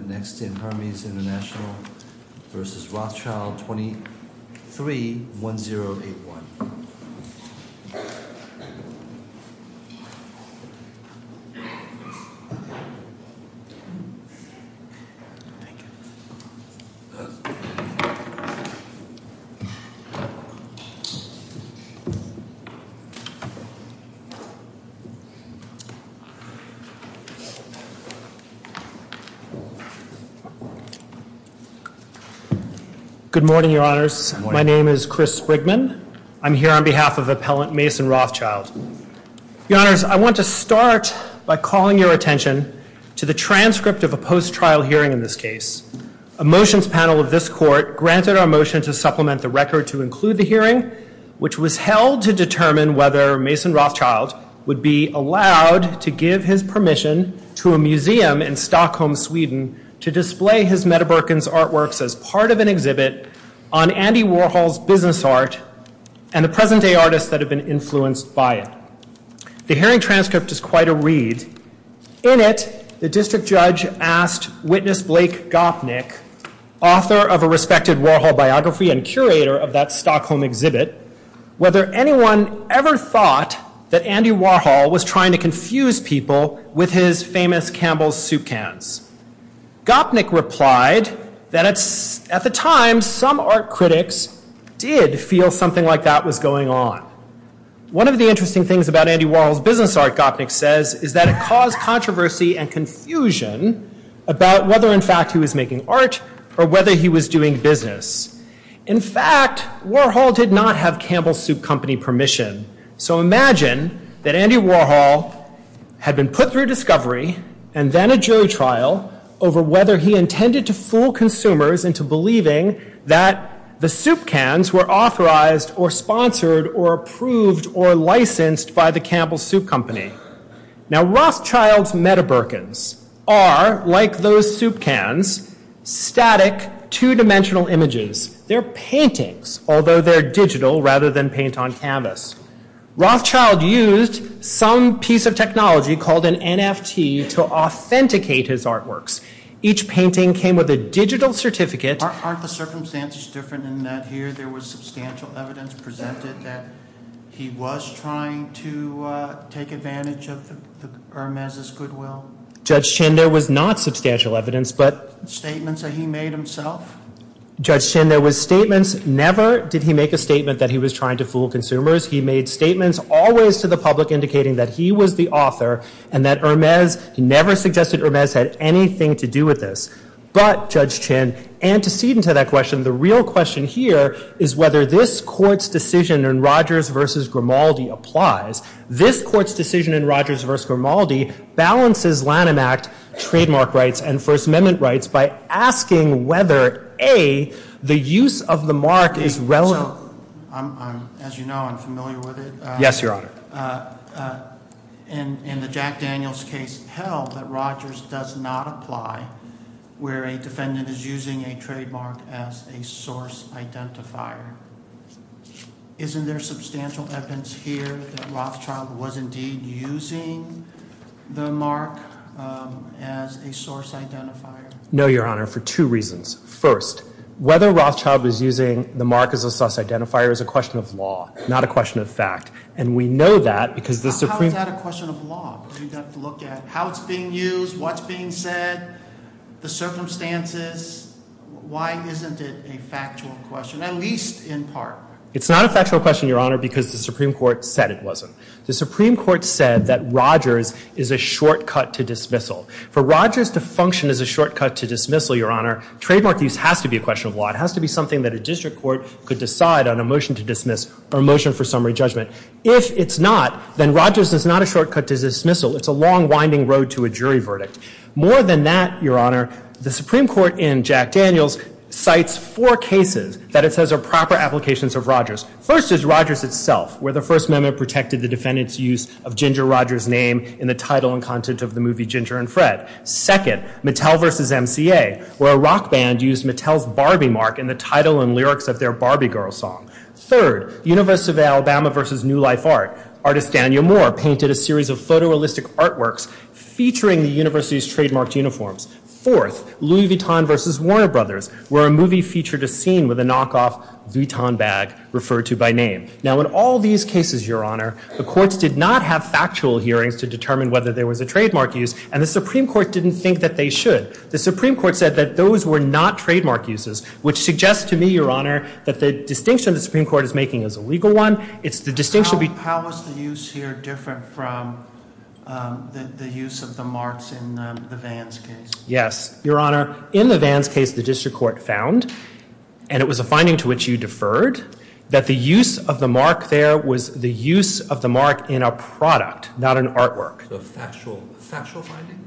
23-1081. Good morning, Your Honors. My name is Chris Sprigman. I'm here on behalf of appellant Mason Rothschild. Your Honors, I want to start by calling your attention to the transcript of a post-trial hearing in this case. A motions panel of this court granted our motion to supplement the record to include the hearing, which was held to determine whether Mason Rothschild would be allowed to give his permission to a museum in Stockholm, Sweden, to display his Metaburken's artworks as part of an exhibit on Andy Warhol's business art and the present-day artists that have been influenced by it. The hearing transcript is quite a read. In it, the district judge asked witness Blake Gopnik, author of a respected Warhol biography and curator of that Stockholm exhibit, whether anyone ever thought that Andy Warhol was trying to confuse people with his famous Campbell's soup cans. Gopnik replied that at the time, some art critics did feel something like that was going on. One of the interesting things about Andy Warhol's business art, Gopnik says, is that it caused controversy and confusion about whether in fact he was making art or whether he was doing business. In fact, Warhol did not have Campbell's Soup Company permission. So imagine that Andy Warhol had been put through discovery and then a jury trial over whether he intended to fool consumers into believing that the soup cans were authorized or sponsored or approved or licensed by the Campbell's Soup Company. Now, Rothschild's Metaburken's are, like those soup cans, static, two-dimensional images. They're paintings, although they're digital rather than paint on canvas. Rothschild used some piece of technology called an NFT to authenticate his artworks. Each painting came with a digital certificate. Aren't the circumstances different in that here there was substantial evidence presented that he was trying to take advantage of Hermes' goodwill? Judge Schindler was not substantial evidence, but... Statements that he made himself? Judge Schindler was statements. Never did he make a statement that he was trying to fool consumers. He made statements always to the public indicating that he was the author and that Hermes never suggested Hermes had anything to do with this. But, Judge Schindler, antecedent to that question, the real question here is whether this court's decision in Rogers v. Grimaldi applies. This court's decision in Rogers v. Grimaldi balances Lanham Act trademark rights and First Amendment rights by asking whether, A, the use of the mark is relevant. As you know, I'm familiar with it. Yes, Your Honor. In the Jack Daniels case, it held that Rogers does not apply where a defendant is using a trademark as a source identifier. Isn't there substantial evidence here that Rothschild was indeed using the mark as a source identifier? No, Your Honor, for two reasons. First, whether Rothschild is using the mark as a source identifier is a question of law, not a question of fact. And we know that because the Supreme... How is that a question of law? You've got to look at how it's being used, what's being said, the circumstances. Why isn't it a factual question, at least in part? It's not a factual question, Your Honor, because the Supreme Court said it wasn't. The Supreme Court said that Rogers is a shortcut to dismissal. For Rogers to function as a shortcut to dismissal, Your Honor, trademark use has to be a question of law. It has to be something that a district court could decide on a motion to dismiss or a motion for summary judgment. If it's not, then Rogers is not a shortcut to dismissal. It's a long, winding road to a jury verdict. More than that, Your Honor, the Supreme Court in Jack Daniels cites four cases that it says are proper applications of Rogers. First is Rogers itself, where the First Amendment protected the defendant's use of Ginger Rogers' name in the title and content of the movie Ginger and Fred. Second, Mattel v. MCA, where a rock band used Mattel's Barbie mark in the title and lyrics of their Barbie Girl song. Third, University of Alabama v. New Life Art. Artist Daniel Moore painted a series of photorealistic artworks featuring the university's trademarked uniforms. Fourth, Louis Vuitton v. Warner Brothers, where a movie featured a scene with a knockoff Vuitton bag referred to by name. Now, in all these cases, Your Honor, the courts did not have factual hearings to determine whether there was a trademark use, and the Supreme Court didn't think that they should. The Supreme Court said that those were not trademark uses, which suggests to me, Your Honor, that the distinction the Supreme Court is making is a legal one. The distinction would be... How is the use here different from the use of the marks in the Vans case? Yes, Your Honor. In the Vans case, the district court found, and it was a finding to which you deferred, that the use of the mark there was the use of the mark in a product, not an artwork. A factual finding?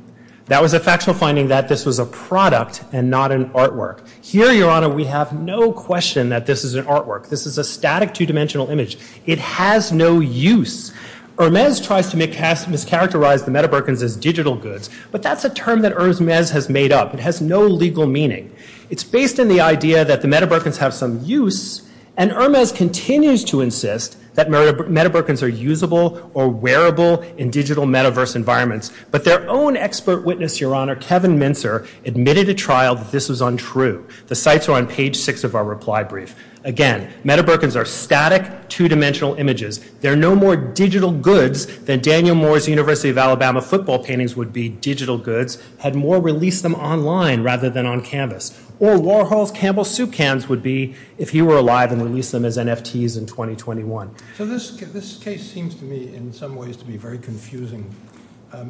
That was a factual finding that this was a product and not an artwork. Here, Your Honor, we have no question that this is an artwork. This is a static two-dimensional image. It has no use. Hermes tries to mischaracterize the Meadowbrookens as digital goods, but that's a term that Hermes has made up. It has no legal meaning. It's based on the idea that the Meadowbrookens have some use, and Hermes continues to insist that Meadowbrookens are usable or wearable in digital metaverse environments. But their own expert witness, Your Honor, Kevin Mintzer, admitted to trial that this was untrue. The sites are on page six of our reply brief. Again, Meadowbrookens are static two-dimensional images. They're no more digital goods than Daniel Moore's University of Alabama football paintings would be digital goods had Moore released them online rather than on canvas. Or Warhol's Campbell Soup cans would be if he were alive and released them as NFTs in 2021. So this case seems to me in some ways to be very confusing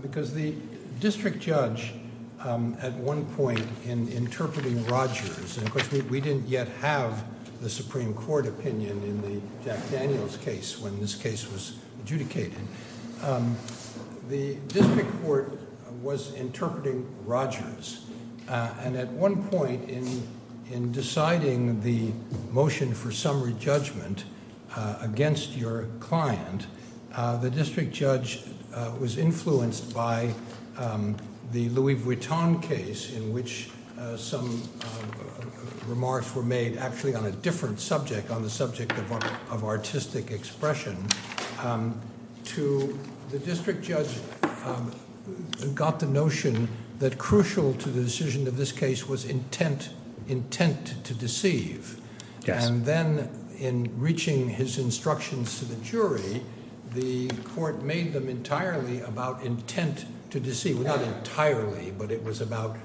because the district judge at one point in interpreting Rogers, and of course we didn't yet have the Supreme Court opinion in the Jack Daniels case when this case was adjudicated, the district court was interpreting Rogers. And at one point in deciding the motion for summary judgment against your client, the district judge was influenced by the Louis Vuitton case in which some remarks were made actually on a different subject, on the subject of artistic expression, to the district judge who got the notion that crucial to the decision of this case was intent to deceive. And then in reaching his instructions to the jury, the court made them entirely about intent to deceive. Not entirely, but it was about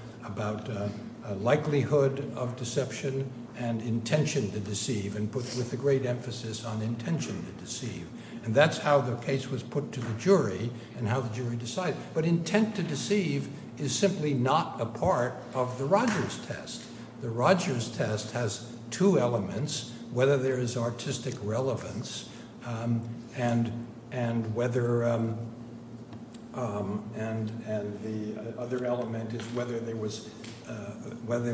likelihood of deception and intention to deceive and put with a great emphasis on intention to deceive. And that's how the case was put to the jury and how the jury decided. But intent to deceive is simply not a part of the Rogers test. The Rogers test has two elements, whether there is artistic relevance and whether, and the other element is whether there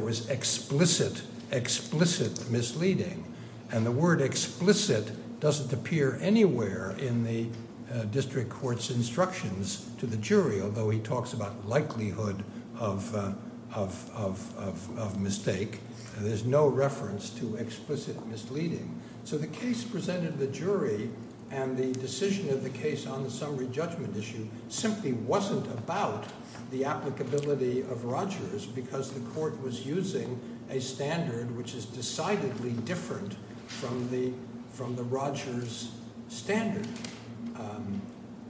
was explicit, misleading, and the word explicit doesn't appear anywhere in the district court's instructions to the jury, although he talks about likelihood of mistake. There's no reference to explicit misleading. So the case presented to the jury and the decision of the case on the summary judgment issue simply wasn't about the applicability of Rogers because the court was using a standard which is decidedly different from the Rogers standard.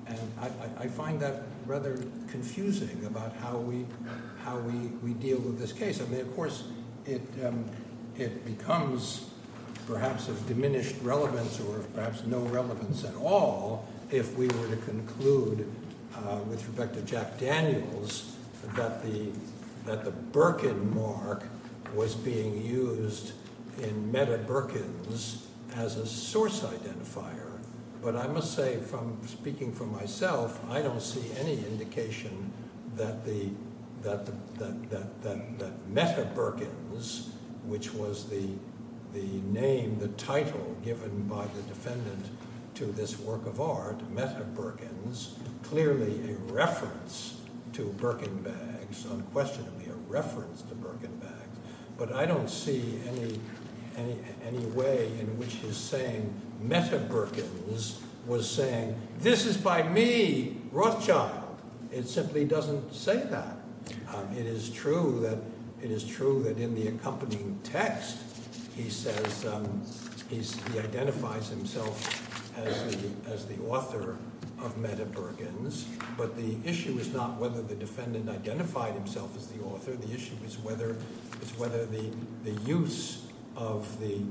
And I find that rather confusing about how we deal with this case. I mean, of course, it becomes perhaps of diminished relevance or perhaps no relevance at all if we were to conclude with respect to Jack Daniels that the Birkin mark was being used in Mehta Birkins as a source identifier. But I must say, speaking for myself, I don't see any indication that Mehta Birkins, which was the name, the title given by the defendant to this work of art, Mehta Birkins, clearly a reference to Birkin bags, unquestionably a reference to Birkin bags. But I don't see any way in which he's saying Mehta Birkins was saying, this is by me, Rothschild. It simply doesn't say that. It is true that in the accompanying text he identifies himself as the author of Mehta Birkins, but the issue is not whether the defendant identified himself as the author. The issue is whether the use of the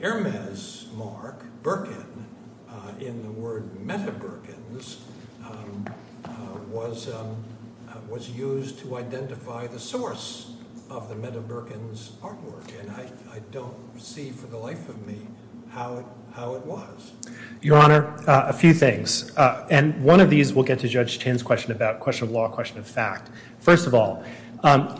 Hermes mark, Birkin, in the word Mehta Birkins was used to identify the source of the Mehta Birkins artwork. And I don't see for the life of me how it was. Your Honor, a few things. And one of these will get to Judge Chin's question about question of law, question of fact. First of all,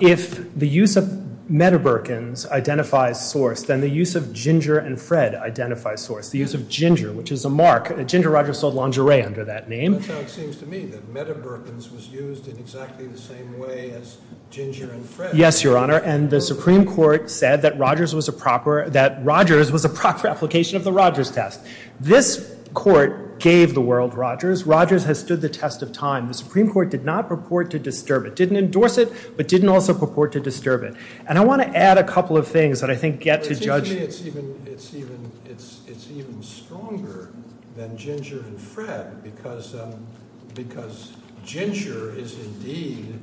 if the use of Mehta Birkins identifies source, then the use of Ginger and Fred identifies source. The use of Ginger, which is a mark. Ginger Rogers sold lingerie under that name. So it seems to me that Mehta Birkins was used in exactly the same way as Ginger and Fred. Yes, Your Honor. And the Supreme Court said that Rogers was a proper application of the Rogers test. This court gave the world Rogers. Rogers has stood the test of time. The Supreme Court did not purport to disturb it, didn't endorse it, but didn't also purport to disturb it. And I want to add a couple of things that I think get to Judge Chin. To me, it's even stronger than Ginger and Fred because Ginger is indeed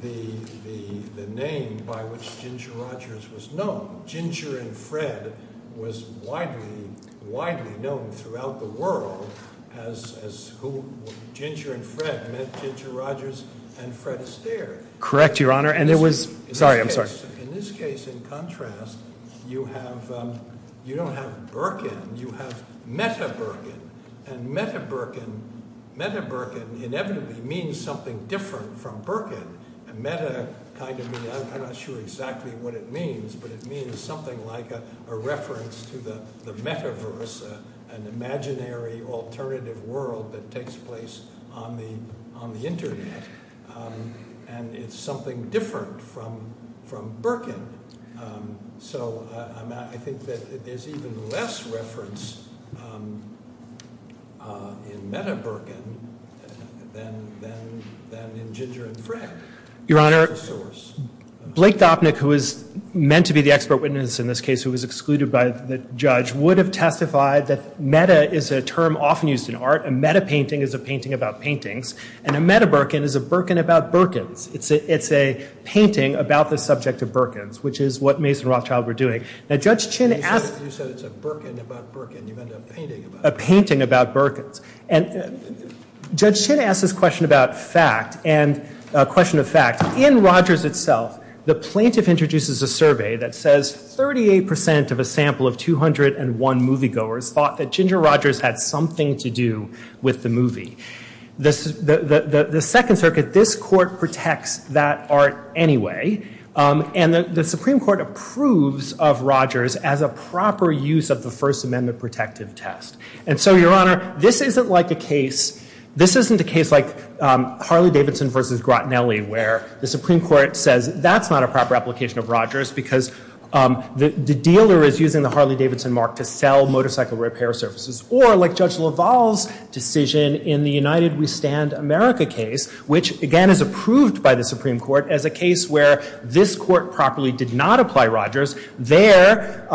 the name by which Ginger Rogers was known. Ginger and Fred was widely known throughout the world as Ginger and Fred met Ginger Rogers and Fred Astaire. Correct, Your Honor. Sorry, I'm sorry. In this case, in contrast, you don't have Birkin. You have Mehta Birkin. And Mehta Birkin inevitably means something different from Birkin. And Mehta kind of means, I'm not sure exactly what it means, but it means something like a reference to the metaverse, an imaginary alternative world that takes place on the internet. And it's something different from Birkin. So I think that there's even less reference in Mehta Birkin than in Ginger and Fred. Your Honor, Blake Dopnik, who is meant to be the expert witness in this case who was excluded by the judge, would have testified that meta is a term often used in art. A meta painting is a painting about paintings. And a meta Birkin is a Birkin about Birkins. It's a painting about the subject of Birkins, which is what Mason Rothschild were doing. Now, Judge Chin asked... You said it's a Birkin about Birkin. You meant a painting about it. A painting about Birkins. And Judge Chin asked this question about fact, and a question of fact. In Rogers itself, the plaintiff introduces a survey that says 38% of a sample of 201 moviegoers thought that Ginger Rogers had something to do with the movie. The Second Circuit, this court, protects that art anyway. And the Supreme Court approves of Rogers as a proper use of the First Amendment protective test. And so, Your Honor, this isn't like a case... This isn't a case like Harley-Davidson v. Grottinelli, where the Supreme Court says that's not a proper application of Rogers because the dealer is using the Harley-Davidson mark to sell motorcycle repair services. Or like Judge LaValle's decision in the United We Stand America case, which, again, is approved by the Supreme Court as a case where this court properly did not apply Rogers. There,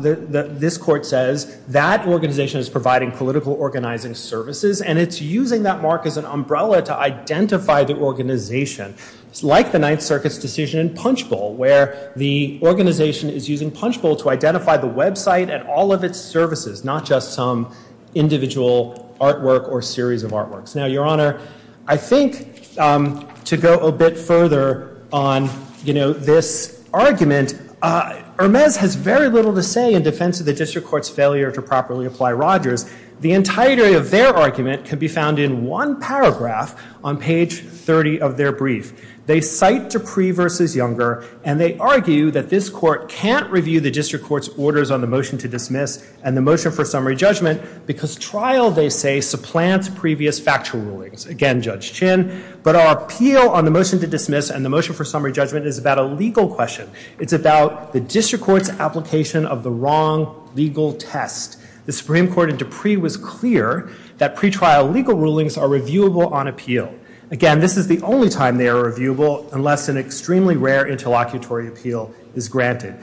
this court says that organization is providing political organizing services, and it's using that mark as an umbrella to identify the organization. It's like the Ninth Circuit's decision in Punchbowl, where the organization is using Punchbowl to identify the website and all of its services, not just some individual artwork or series of artworks. Now, Your Honor, I think to go a bit further on, you know, this argument, Hermes has very little to say in defense of the district court's failure to properly apply Rogers. The entirety of their argument can be found in one paragraph on page 30 of their brief. They cite Dupree v. Younger, and they argue that this court can't review the district court's orders on the motion to dismiss and the motion for summary judgment because trial, they say, supplants previous factual rulings. Again, Judge Chinn. But our appeal on the motion to dismiss and the motion for summary judgment is about a legal question. It's about the district court's application of the wrong legal test. The Supreme Court in Dupree was clear that pretrial legal rulings are reviewable on appeal. Again, this is the only time they are reviewable unless an extremely rare interlocutory appeal is granted.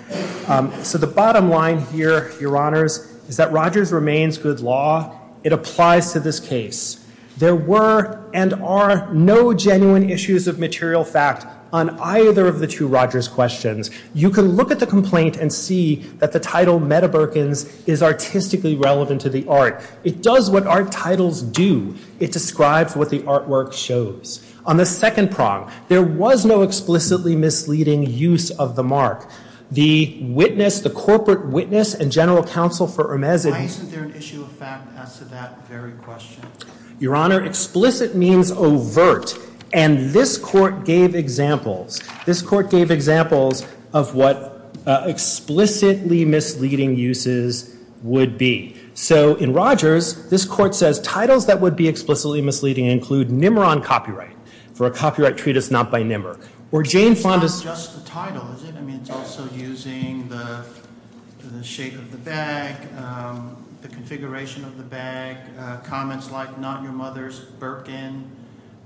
So the bottom line here, Your Honors, is that Rogers remains good law. It applies to this case. There were and are no genuine issues of material fact on either of the two Rogers questions. You can look at the complaint and see that the title, Medebergens, is artistically relevant to the art. It does what art titles do. It describes what the artwork shows. On the second prong, there was no explicitly misleading use of the mark. The witness, the corporate witness and general counsel for Hermes Isn't there an issue of fact as to that very question? Your Honor, explicit means overt. And this court gave examples. This court gave examples of what explicitly misleading uses would be. So in Rogers, this court says titles that would be explicitly misleading include NIMR on copyright for a copyright treatise not by NIMR. It's not just the title, is it? I mean, it's also using the shape of the bag, the configuration of the bag, comments like not your mother's Birkin.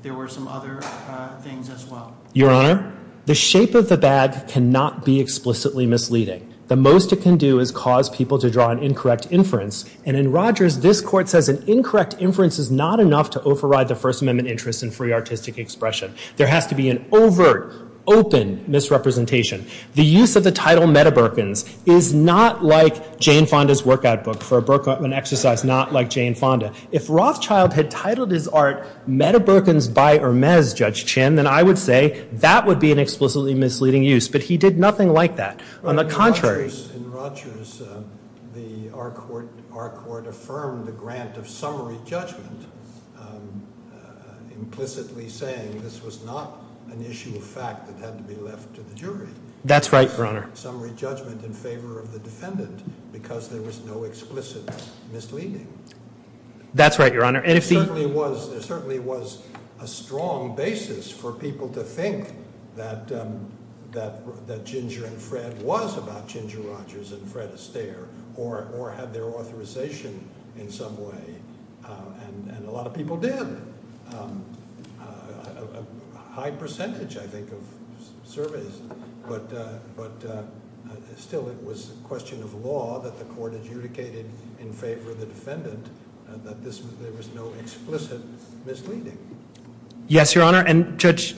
There were some other things as well. Your Honor, the shape of the bag cannot be explicitly misleading. The most it can do is cause people to draw an incorrect inference. And in Rogers, this court says an incorrect inference is not enough to override the First Amendment interest in free artistic expression. There has to be an overt, open misrepresentation. The use of the title Meta-Birkins is not like Jane Fonda's workout book for an exercise not like Jane Fonda. If Rothschild had titled his art Meta-Birkins by Hermes, Judge Chin, then I would say that would be an explicitly misleading use. But he did nothing like that. On the contrary. In Rogers, our court affirmed the grant of summary judgment implicitly saying this was not an issue of fact that had to be left to the jury. That's right, Your Honor. Summary judgment in favor of the defendant because there was no explicit misleading. That's right, Your Honor. It certainly was a strong basis for people to think that Ginger and Fred was about Ginger Rogers and Fred Astaire or had their authorization in some way and a lot of people did. A high percentage, I think, of surveys. But still, it was a question of law that the court adjudicated in favor of the defendant that there was no explicit misleading. Yes, Your Honor. And Judge,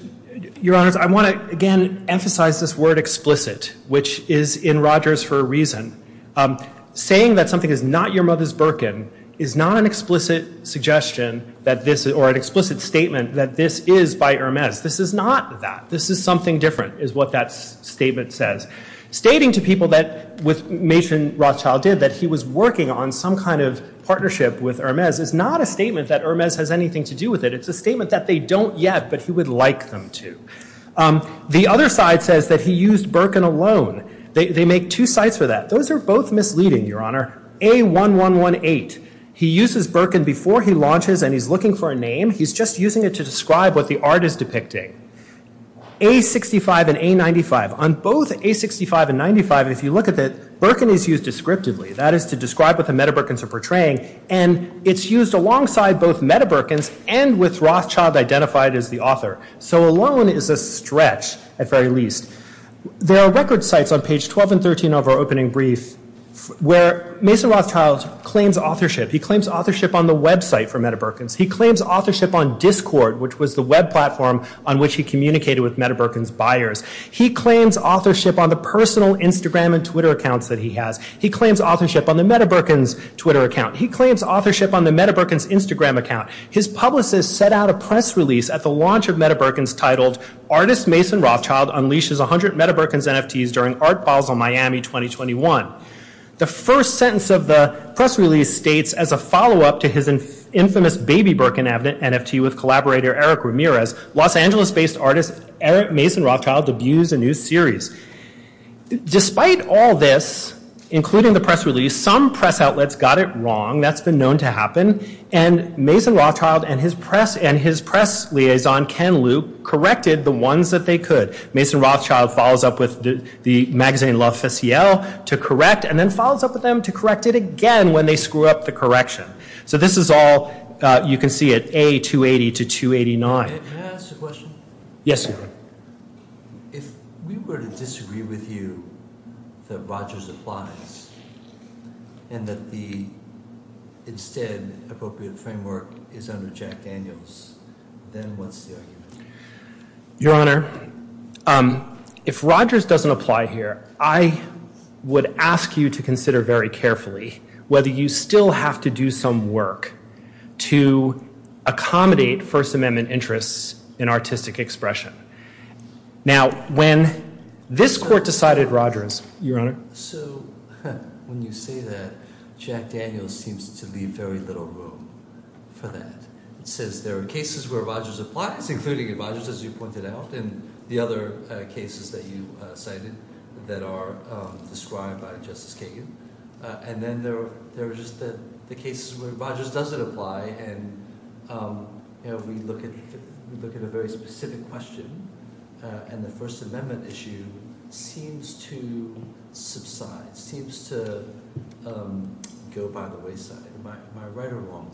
Your Honor, I want to, again, emphasize this word explicit which is in Rogers for a reason. Saying that something is not your mother's Birkin is not an explicit suggestion or an explicit statement that this is by Hermes. This is not that. This is something different is what that statement says. Stating to people that Mason Rothschild did that he was working on some kind of partnership with Hermes is not a statement that Hermes has anything to do with it. It's a statement that they don't yet but he would like them to. The other side says that he used Birkin alone. They make two sides for that. Those are both misleading, Your Honor. A1118. He uses Birkin before he launches and he's looking for a name. He's just using it to describe what the art is depicting. A65 and A95. On both A65 and A95, if you look at it, Birkin is used descriptively. That is to describe what the Meta-Birkins are portraying and it's used alongside both Meta-Birkins and with Rothschild identified as the author. So alone is a stretch, at very least. There are record sites on page 12 and 13 of our opening brief where Mason Rothschild claims authorship. He claims authorship on the website for Meta-Birkins. He claims authorship on Discord, which was the web platform on which he communicated with Meta-Birkins buyers. He claims authorship on the personal Instagram and Twitter accounts that he has. He claims authorship on the Meta-Birkins Twitter account. He claims authorship on the Meta-Birkins Instagram account. His publicist set out a press release at the launch of Meta-Birkins titled Artist Mason Rothschild Unleashes 100 Meta-Birkins NFTs During Art Files on Miami 2021. The first sentence of the press release states as a follow-up to his infamous baby Birkin NFT with collaborator Eric Ramirez, Los Angeles-based artist Mason Rothschild abused a new series. Despite all this, including the press release, some press outlets got it wrong. That's been known to happen. And Mason Rothschild and his press liaison, Ken Luke, corrected the ones that they could. Mason Rothschild follows up with the magazine La Faciel to correct and then follows up with them to correct it again when they screw up the correction. So this is all, you can see it, A280 to 289. Can I ask a question? Yes, sir. If you were to disagree with you that Rogers applies and that the instead appropriate framework is under Jack Daniels, then what's the argument? Your Honor, if Rogers doesn't apply here, I would ask you to consider very carefully whether you still have to do some work to accommodate First Amendment interests in artistic expression. Now, when this court decided Rogers... So, when you say that, Jack Daniels seems to leave very little room for that. It says there are cases where Rogers applies, including Rogers, as you pointed out, and the other cases that you cited that are described by Justice Kagan. And then there's the case where Rogers doesn't apply and we look at a very specific question and the First Amendment issue seems to subside, seems to go by the wayside. Am I right or wrong?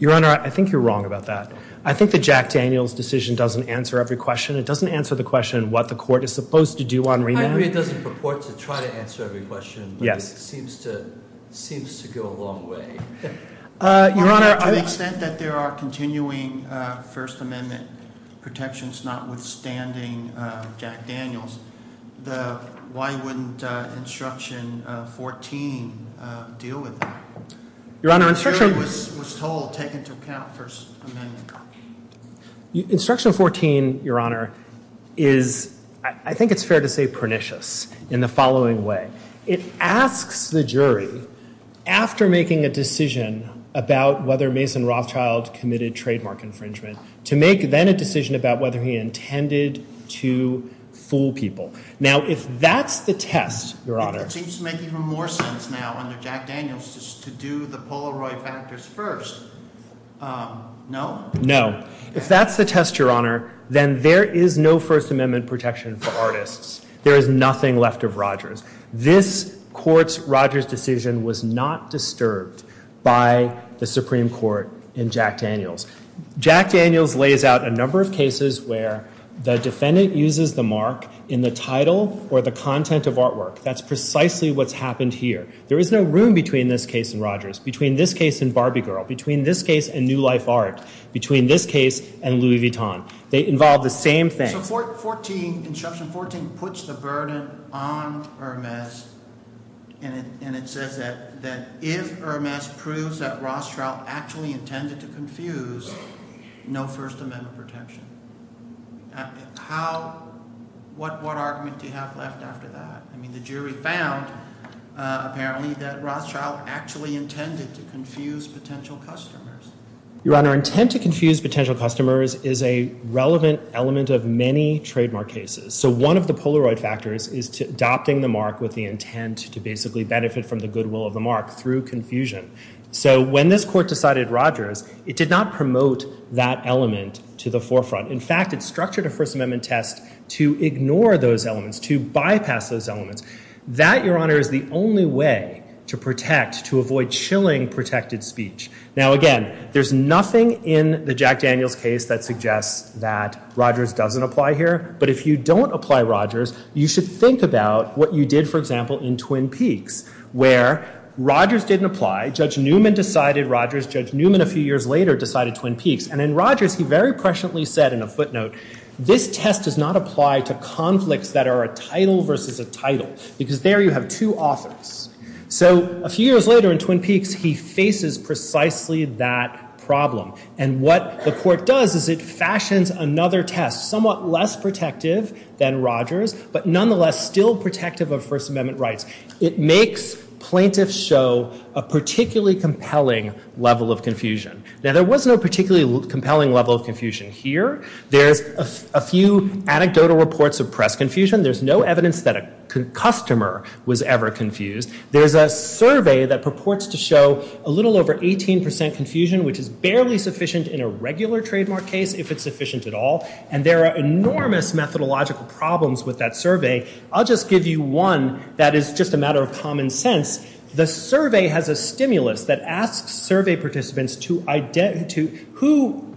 Your Honor, I think you're wrong about that. I think the Jack Daniels decision doesn't answer every question. It doesn't answer the question of what the court is supposed to do on remand. I agree it doesn't purport to try to answer every question, but it seems to go a long way. Your Honor... To the extent that there are continuing First Amendment protections, notwithstanding Jack Daniels, why wouldn't Instruction 14 deal with that? Your Honor, Instruction... Instruction 14, Your Honor, is, I think it's fair to say, pernicious in the following way. It asks the jury, after making a decision about whether Mason Rothschild committed trademark infringement, to make then a decision about whether he intended to fool people. Now, if that's the test, Your Honor... It seems to make even more sense now under Jack Daniels to do the Polaroid factors first. No? If that's the test, Your Honor, then there is no First Amendment protection for artists. There is nothing left of Rogers. This court's Rogers decision was not disturbed by the Supreme Court in Jack Daniels. Jack Daniels lays out a number of cases where the defendant uses the mark in the title or the content of artwork. That's precisely what's happened here. There is no room between this case and Rogers, between this case and Barbie Girl, between this case and New Life Art, between this case and Louis Vuitton. They involve the same thing. So 14, Instruction 14, puts the burden on Hermes and it says that if Hermes proves that Rothschild actually intended to confuse, no First Amendment protection. How, what argument do you have left after that? I mean, the jury found, apparently, that Rothschild actually intended to confuse potential customers. Your Honor, intent to confuse potential customers is a relevant element of many trademark cases. So one of the Polaroid factors is adopting the mark with the intent to basically benefit from the goodwill of the mark through confusion. So when this court decided Rogers, it did not promote that element to the forefront. In fact, it structured a First Amendment test to ignore those elements, to bypass those elements. That, Your Honor, is the only way to protect, to avoid chilling protected speech. Now again, there's nothing in the Jack Daniels case that suggests that Rogers doesn't apply here. But if you don't apply Rogers, you should think about what you did, for example, in Twin Peaks, where Rogers didn't apply. Judge Newman decided Rogers. Judge Newman, a few years later, decided Twin Peaks. And then Rogers, he very presciently said in a footnote, this test does not apply to conflicts that are a title versus a title. Because there you have two offers. So a few years later in Twin Peaks, he faces precisely that problem. And what the court does is it fashions another test, somewhat less protective than Rogers, but nonetheless still protective of First Amendment rights. It makes plaintiffs show a particularly compelling level of confusion. Now there was no particularly compelling level of confusion here. There's a few anecdotal reports of press confusion. There's no evidence that a customer was ever confused. There's a survey that purports to show a little over 18% confusion, which is barely sufficient in a regular trademark case, if it's sufficient at all. And there are enormous methodological problems with that survey. I'll just give you one that is just a matter of common sense. The survey has a stimulus that asks survey participants who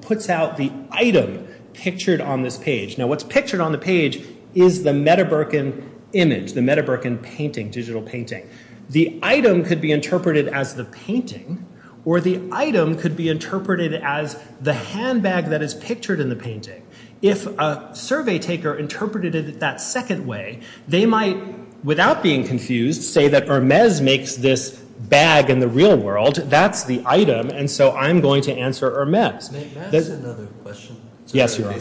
puts out the item pictured on this page. Now what's pictured on the page is the Metaburken image, the Metaburken painting, digital painting. The item could be interpreted as the painting, or the item could be interpreted as the handbag that is pictured in the painting. If a survey taker interpreted it that second way, they might, without being confused, say that Hermes makes this bag in the real world, that's the item, and so I'm going to answer Hermes. Yes, you are.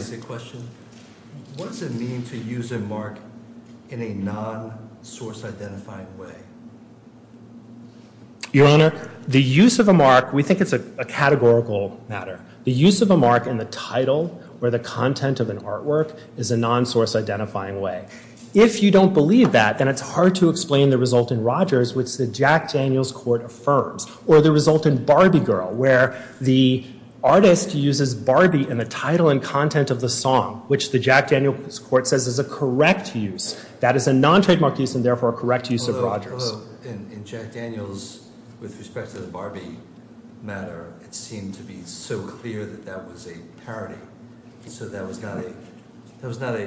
Your Honor, the use of a mark, we think it's a categorical matter. The use of a mark in the title or the content of an artwork is a non-source identifying way. If you don't believe that, then it's hard to explain the result in Rogers, which the Jack Daniels Court affirms, or the result in Barbie Girl, where the artist uses Barbie in the title and content of the song, which the Jack Daniels Court says is a correct use. That is a non-trademark use, and therefore a correct use of Rogers. In Jack Daniels, with respect to the Barbie matter, it seemed to be so clear that that was a parody. So that was not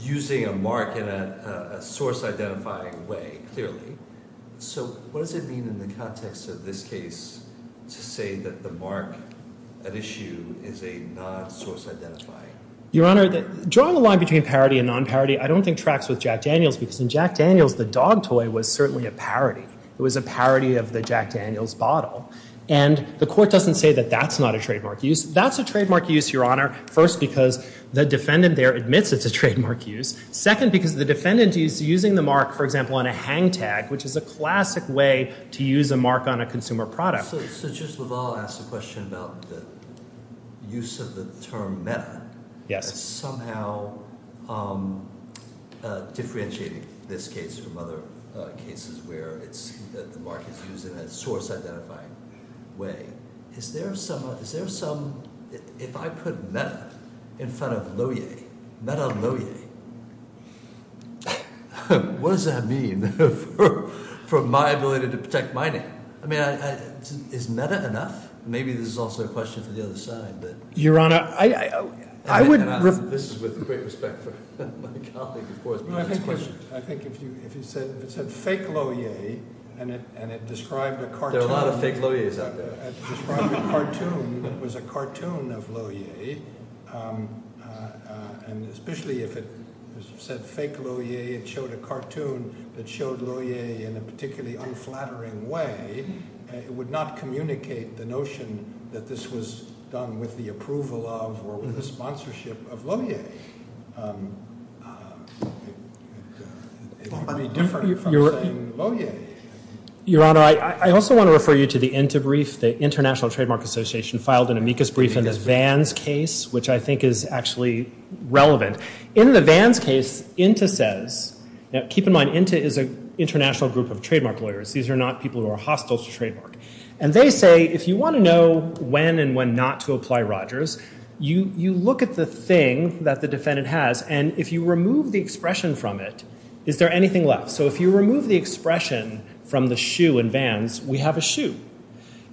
using a mark in a source identifying way, clearly. So what does it mean in the context of this case to say that the mark at issue is a non-source identifying? Your Honor, drawing the line between parody and non-parody, I don't think tracks with Jack Daniels, because in Jack Daniels, the dog toy was certainly a parody. It was a parody of the Jack Daniels bottle. And the Court doesn't say that that's not a trademark use. That's a trademark use, Your Honor, first because the defendant there admits it's a trademark use, second because the defendant is using the mark, for example, on a hang tag, which is a classic way to use a mark on a consumer product. So Justice LaValle asks a question about the use of the term meta. Yes. Somehow differentiating this case from other cases where the mark is used in a source identifying way. Is there some... If I put meta in front of Loewe, meta Loewe, what does that mean? For my ability to protect my name. I mean, is meta enough? Maybe there's also a question for the other side. Your Honor, I wouldn't... This is with great respect for my colleague, of course. I think if you said fake Loewe, and it described a cartoon... There are a lot of fake Loewe's out there. It described a cartoon that was a cartoon of Loewe, and especially if it said fake Loewe, it showed a cartoon that showed Loewe in a particularly unflattering way. It would not communicate the notion that this was done with the approval of or with the sponsorship of Loewe. It's different from saying Loewe. Your Honor, I also want to refer you to the INTA brief, the International Trademark Association, filed an amicus brief in the Vans case, which I think is actually relevant. In the Vans case, INTA says... Keep in mind, INTA is an international group of trademark lawyers. These are not people who are hostile to trademark. And they say, if you want to know when and when not to apply Rogers, you look at the thing that the defendant has, and if you remove the expression from it, is there anything left? So if you remove the expression from the shoe in Vans, we have a shoe.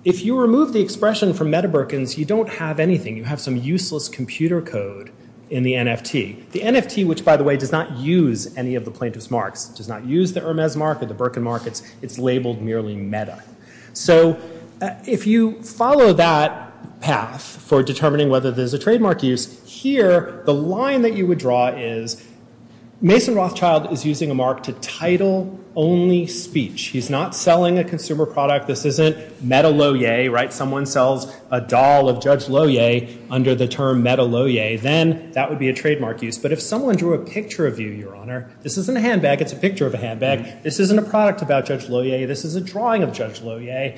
If you remove the expression from Meta Berkins, you don't have anything. You have some useless computer code in the NFT. The NFT, which, by the way, does not use any of the plaintiff's marks, does not use the Hermes mark or the Berkin mark. It's labeled merely Meta. So if you follow that path for determining whether there's a trademark use, here, the line that you would draw is Mason Rothschild is using a mark to title only speech. He's not selling a consumer product. This isn't Meta Loewe, right? Someone sells a doll of Judge Loewe. Under the term Meta Loewe, then that would be a trademark use. But if someone drew a picture of you, Your Honor, this isn't a handbag. It's a picture of a handbag. This isn't a product about Judge Loewe. This is a drawing of Judge Loewe,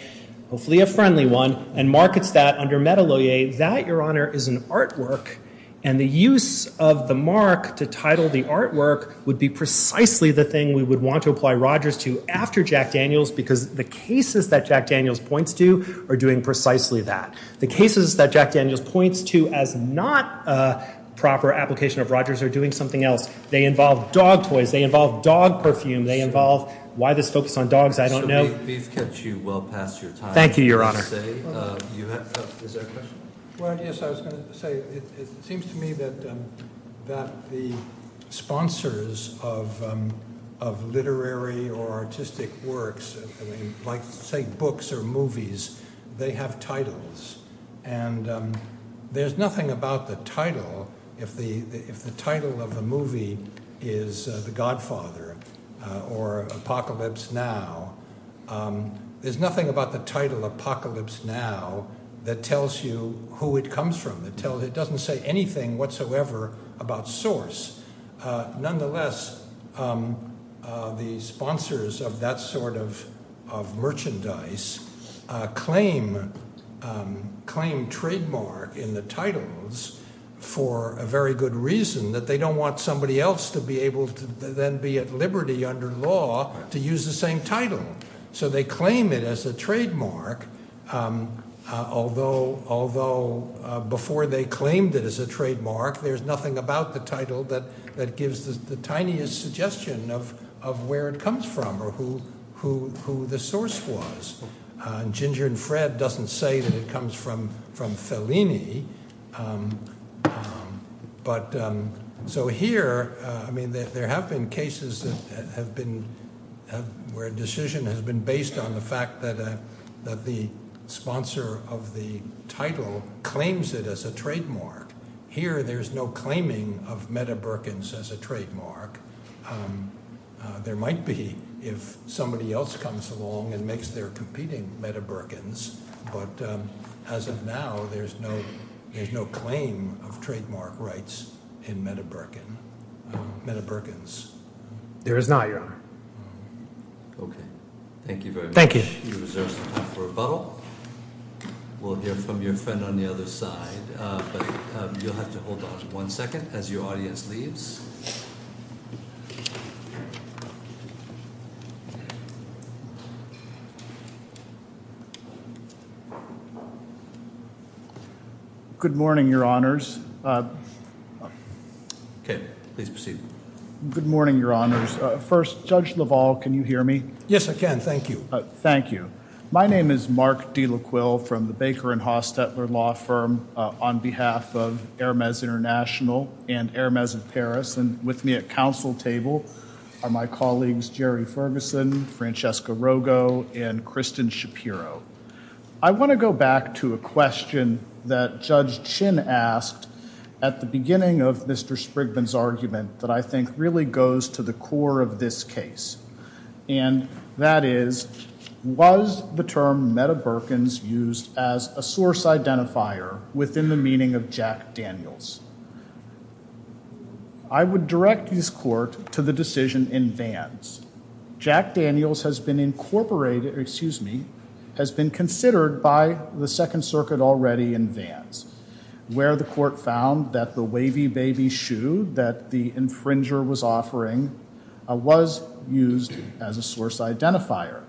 hopefully a friendly one, and markets that under Meta Loewe, that, Your Honor, is an artwork, and the use of the mark to title the artwork would be precisely the thing we would want to apply Rogers to after Jack Daniels because the cases that Jack Daniels points to are doing precisely that. The cases that Jack Daniels points to as not a proper application of Rogers are doing something else. They involve dog toys. They involve dog perfume. They involve, why this focus on dogs, I don't know. We've kept you well past your time. Thank you, Your Honor. Is there a question? Well, yes, I was going to say it seems to me that the sponsors of literary or artistic works, like say books or movies, they have titles, and there's nothing about the title, if the title of the movie is The Godfather or Apocalypse Now, there's nothing about the title Apocalypse Now that tells you who it comes from. It doesn't say anything whatsoever about source. Nonetheless, the sponsors of that sort of merchandise claim trademark in the titles for a very good reason, that they don't want somebody else to be able to then be at liberty under law to use the same title. So they claim it as a trademark, although before they claimed it as a trademark, there's nothing about the title that gives the tiniest suggestion of where it comes from or who the source was. Ginger and Fred doesn't say that it comes from Fellini. But so here, I mean, there have been cases that have been where a decision has been based on the fact that the sponsor of the title claims it as a trademark. Here, there's no claiming of Meta Berkins as a trademark. There might be if somebody else comes along and makes their competing Meta Berkins, but as of now, there's no claim of trademark rights in Meta Berkins. There is not, Your Honor. Okay. Thank you very much. Thank you. We reserve some time for a follow-up. We'll hear from your friend on the other side. But you'll have to hold on one second as your audience leaves. Good morning, Your Honors. Okay. Please proceed. Good morning, Your Honors. First, Judge LaValle, can you hear me? Yes, I can. Thank you. Thank you. My name is Mark D. LaQuill from the Baker and Hostetler Law Firm on behalf of Hermes International and Hermes of Paris. And with me at counsel table are my colleagues Jerry Ferguson, Francesca Rogo, and Kristen Shapiro. I want to go back to a question that Judge Chin asked at the beginning of Mr. Spriggan's argument that I think really goes to the core of this case. And that is, was the term Meta Berkins used as a source identifier within the meaning of Jack Daniels? I would direct this court to the decision in Vance. Jack Daniels has been incorporated, excuse me, has been considered by the Second Circuit already in Vance where the court found that the wavy baby shoe that the infringer was offering was used as a source identifier.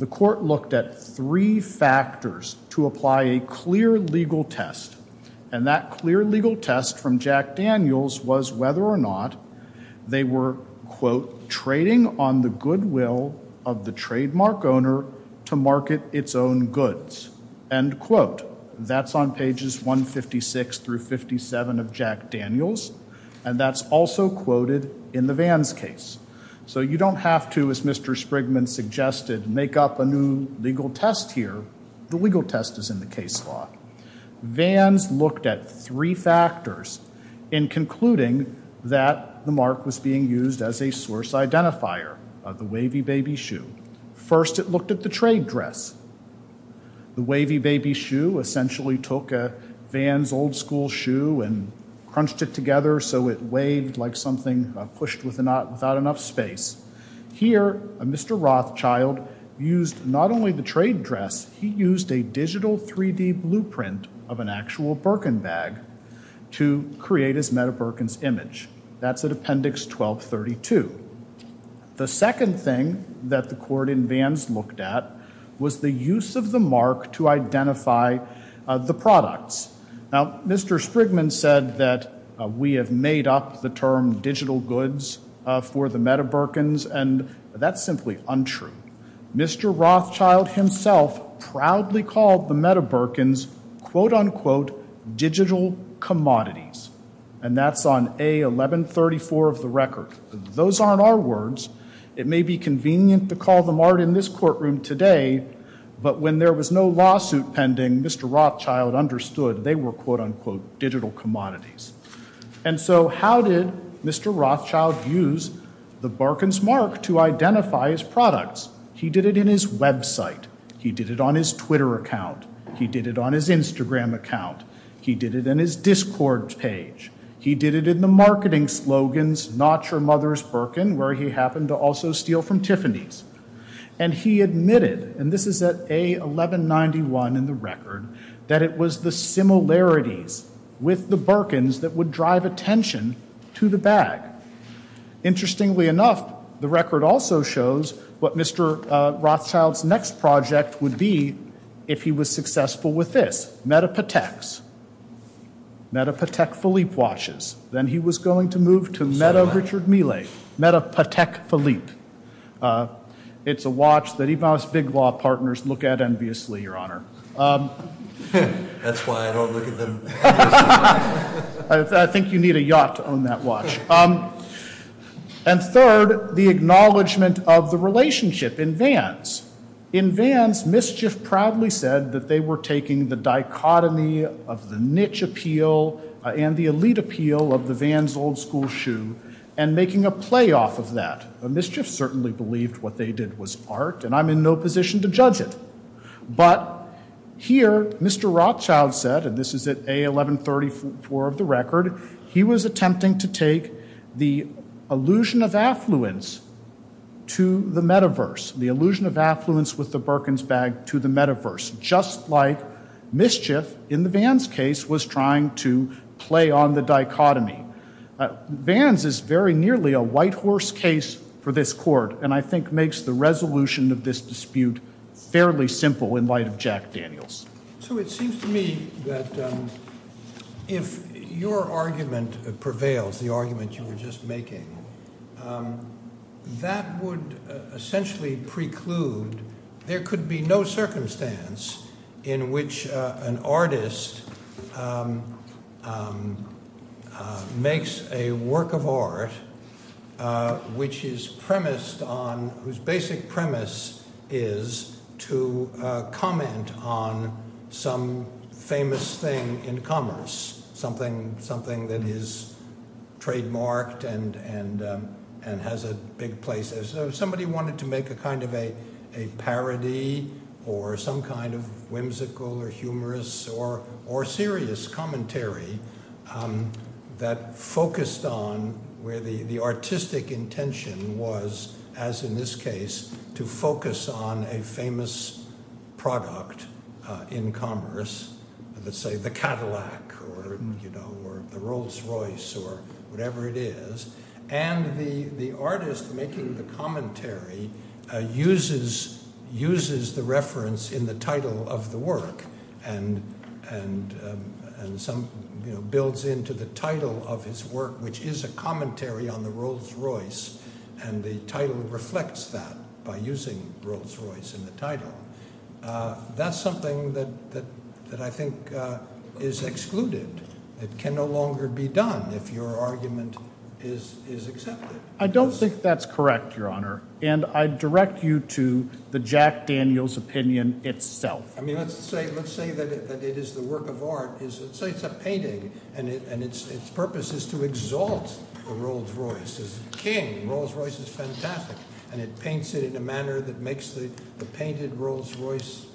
The court looked at three factors to apply a clear legal test. And that clear legal test from Jack Daniels was whether or not they were, quote, trading on the goodwill of the trademark owner to market its own goods. End quote. That's on pages 156 through 57 of Jack Daniels. And that's also quoted in the Vance case. So you don't have to, as Mr. Spriggan suggested, make up a new legal test here. The legal test is in the case law. Vance looked at three factors in concluding that the mark was being used as a source identifier of the wavy baby shoe. First, it looked at the trade dress. The wavy baby shoe essentially took Vance's old school shoe and crunched it together so it weighed like something pushed without enough space. Here, Mr. Rothschild used not only the trade dress, he used a digital 3-D blueprint of an actual Birkin bag to create his Meta Birkin's image. That's at Appendix 1232. The second thing that the court in Vance looked at was the use of the mark to identify the products. Now, Mr. Spriggan said that we have made up the term digital goods for the Meta Birkins, and that's simply untrue. Mr. Rothschild himself proudly called the Meta Birkins quote-unquote digital commodities, and that's on A1134 of the record. Those aren't our words. It may be convenient to call them art in this courtroom today, but when there was no lawsuit pending, Mr. Rothschild understood they were quote-unquote digital commodities. And so how did Mr. Rothschild use the Birkin's mark to identify his products? He did it in his website. He did it on his Twitter account. He did it on his Instagram account. He did it in his Discord page. He did it in the marketing slogans Not Your Mother's Birkin, where he happened to also steal from Tiffany's. And he admitted, and this is at A1191 in the record, that it was the similarities with the Birkins that would drive attention to the bag. Interestingly enough, the record also shows what Mr. Rothschild's next project would be if he was successful with this. Metapotex. Metapotex Philippe watches. Then he was going to move to Meta Richard Mille. Metapotex Philippe. It's a watch that even our big law partners look at enviously, Your Honor. That's why I don't look at them. I think you need a yacht to own that watch. And third, the acknowledgement of the relationship in Vans. In Vans, Mischief proudly said that they were taking the dichotomy of the niche appeal and the elite appeal of the Vans old school shoe and making a play off of that. Mischief certainly believed what they did was art, and I'm in no position to judge it. But here, Mr. Rothschild said, and this is at A1134 of the record, he was attempting to take the illusion of affluence to the metaverse, the illusion of affluence with the Perkins bag to the metaverse, just like Mischief, in the Vans case, was trying to play on the dichotomy. Vans is very nearly a white horse case for this court, and I think makes the resolution of this dispute fairly simple in light of Jack Daniels. So it seems to me that if your argument prevails, the argument you were just making, that would essentially preclude, there could be no circumstance in which an artist makes a work of art which is premised on, whose basic premise is to comment on some famous thing in commerce, something that is trademarked and has a big place. So if somebody wanted to make a kind of a parody or some kind of whimsical or humorous or serious commentary that focused on where the artistic intention was, as in this case, to focus on a famous product in commerce, let's say the Cadillac or the Rolls-Royce or whatever it is, and the artist making the commentary uses the reference in the title of the work and builds into the title of his work, which is a commentary on the Rolls-Royce, and the title reflects that by using Rolls-Royce in the title. That's something that I think is excluded. It can no longer be done if your argument is accepted. I don't think that's correct, Your Honor, and I direct you to the Jack Daniels opinion itself. I mean, let's say that it is the work of art. Let's say it's a painting, and its purpose is to exalt the Rolls-Royce. It's a king. The Rolls-Royce is fantastic, and it paints it in a manner that makes the painted Rolls-Royce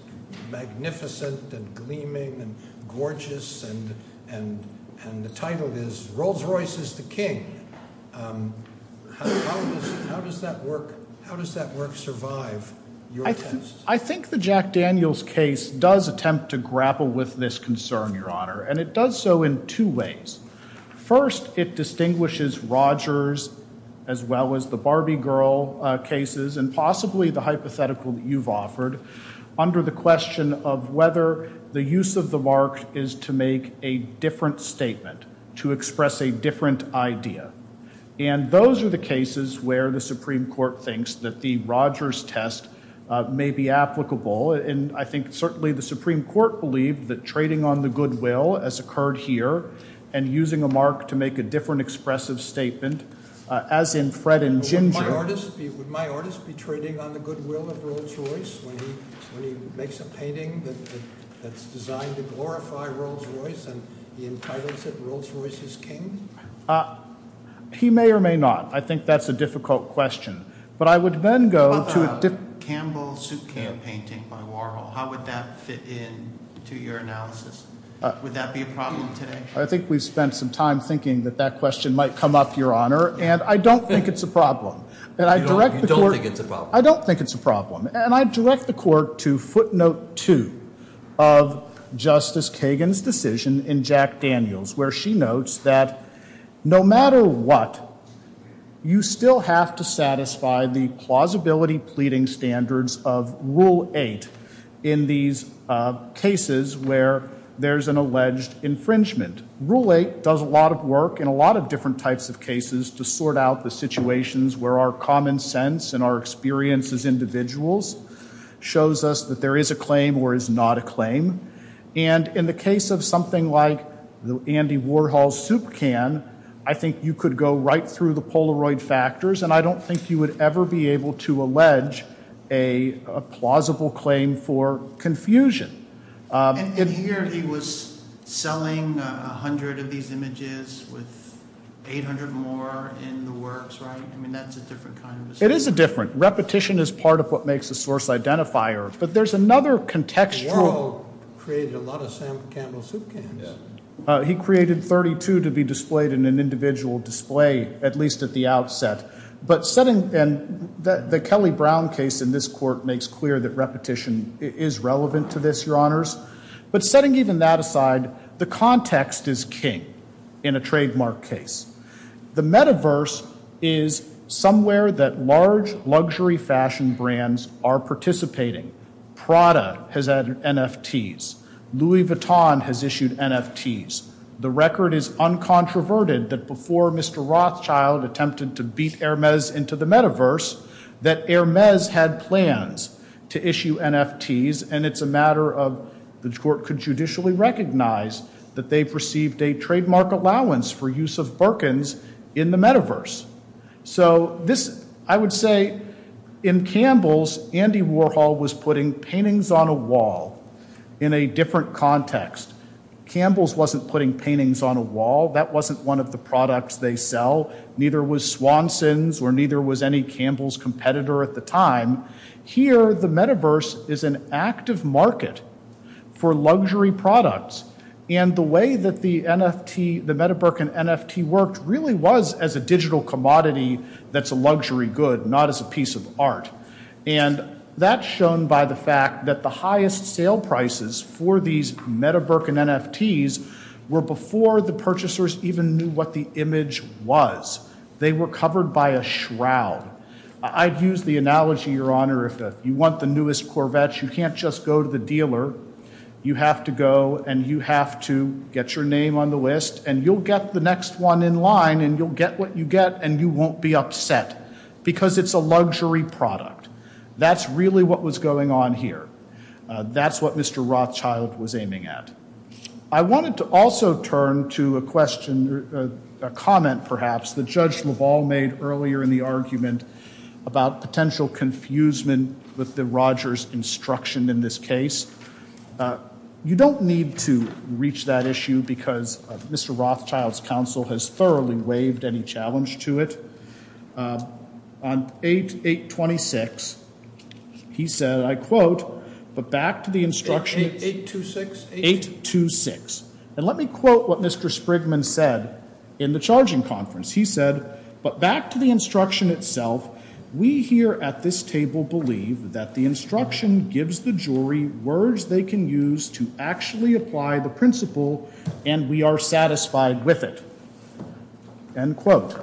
magnificent and gleaming and gorgeous, and the title is Rolls-Royce is the King. How does that work survive your case? I think the Jack Daniels case does attempt to grapple with this concern, Your Honor, and it does so in two ways. First, it distinguishes Rogers as well as the Barbie Girl cases and possibly the hypothetical that you've offered under the question of whether the use of the mark is to make a different statement, to express a different idea, and those are the cases where the Supreme Court thinks that the Rogers test may be applicable, and I think certainly the Supreme Court believed that trading on the goodwill as occurred here and using a mark to make a different expressive statement, as in Fred and Ginger. Would my artist be trading on the goodwill of Rolls-Royce when he makes a painting that's designed to glorify Rolls-Royce and the entitlement that Rolls-Royce is king? He may or may not. I think that's a difficult question, but I would then go to a different... How about the Campbell suitcase painting by Warhol? How would that fit in to your analysis? Would that be a problem today? I think we've spent some time thinking that that question might come up, Your Honor, and I don't think it's a problem. You don't think it's a problem? I don't think it's a problem, and I direct the Court to footnote 2 of Justice Kagan's decision in Jack Daniels, where she notes that no matter what, you still have to satisfy the plausibility pleading standards of Rule 8 in these cases where there's an alleged infringement. Rule 8 does a lot of work in a lot of different types of cases to sort out the situations where our common sense and our experience as individuals shows us that there is a claim or is not a claim, and in the case of something like the Andy Warhol soup can, I think you could go right through the Polaroid factors, and I don't think you would ever be able to allege a plausible claim for confusion. And here he was selling 100 of these images with 800 more in the works, right? I mean, that's a different kind of... It is a different... Repetition is part of what makes the source identifier, but there's another contextual... Warhol created a lot of Sam Campbell soup cans. He created 32 to be displayed in an individual display, at least at the outset. But setting... And the Kelly-Brown case in this Court makes clear that repetition is relevant to this, Your Honors. But setting even that aside, the context is king in a trademark case. The metaverse is somewhere that large luxury fashion brands are participating. Prada has added NFTs. Louis Vuitton has issued NFTs. The record is uncontroverted that before Mr. Rothschild attempted to beat Hermes into the metaverse, that Hermes had plans to issue NFTs, and it's a matter of... The Court could judicially recognize that they perceived a trademark allowance for use of Birkins in the metaverse. So this... I would say in Campbell's, Andy Warhol was putting paintings on a wall in a different context. Campbell's wasn't putting paintings on a wall. That wasn't one of the products they sell. Neither was Swanson's or neither was any Campbell's competitor at the time. Here, the metaverse is an active market for luxury products, and the way that the NFT, the Meadowbrook and NFT, worked really was as a digital commodity that's a luxury good, not as a piece of art. And that's shown by the fact that the highest sale prices for these Meadowbrook and NFTs were before the purchasers even knew what the image was. They were covered by a shroud. I'd use the analogy, if you want the newest Corvettes, you can't just go to the dealer. You have to go, and you have to get your name on the list, and you'll get the next one in line, and you'll get what you get, and you won't be upset because it's a luxury product. That's really what was going on here. That's what Mr. Rothschild was aiming at. I wanted to also turn to a question, a comment, perhaps, that Judge Leval made earlier in the argument about potential confusement with the Rogers instruction in this case. You don't need to reach that issue because Mr. Rothschild's counsel has thoroughly waived any challenge to it. On 8.826, he said, I quote, but back to the instruction... 8.826? 8.826. And let me quote what Mr. Sprigman said in the charging conference. He said, but back to the instruction itself, we here at this table believe that the instruction gives the jury words they can use to actually apply the principle and we are satisfied with it. End quote.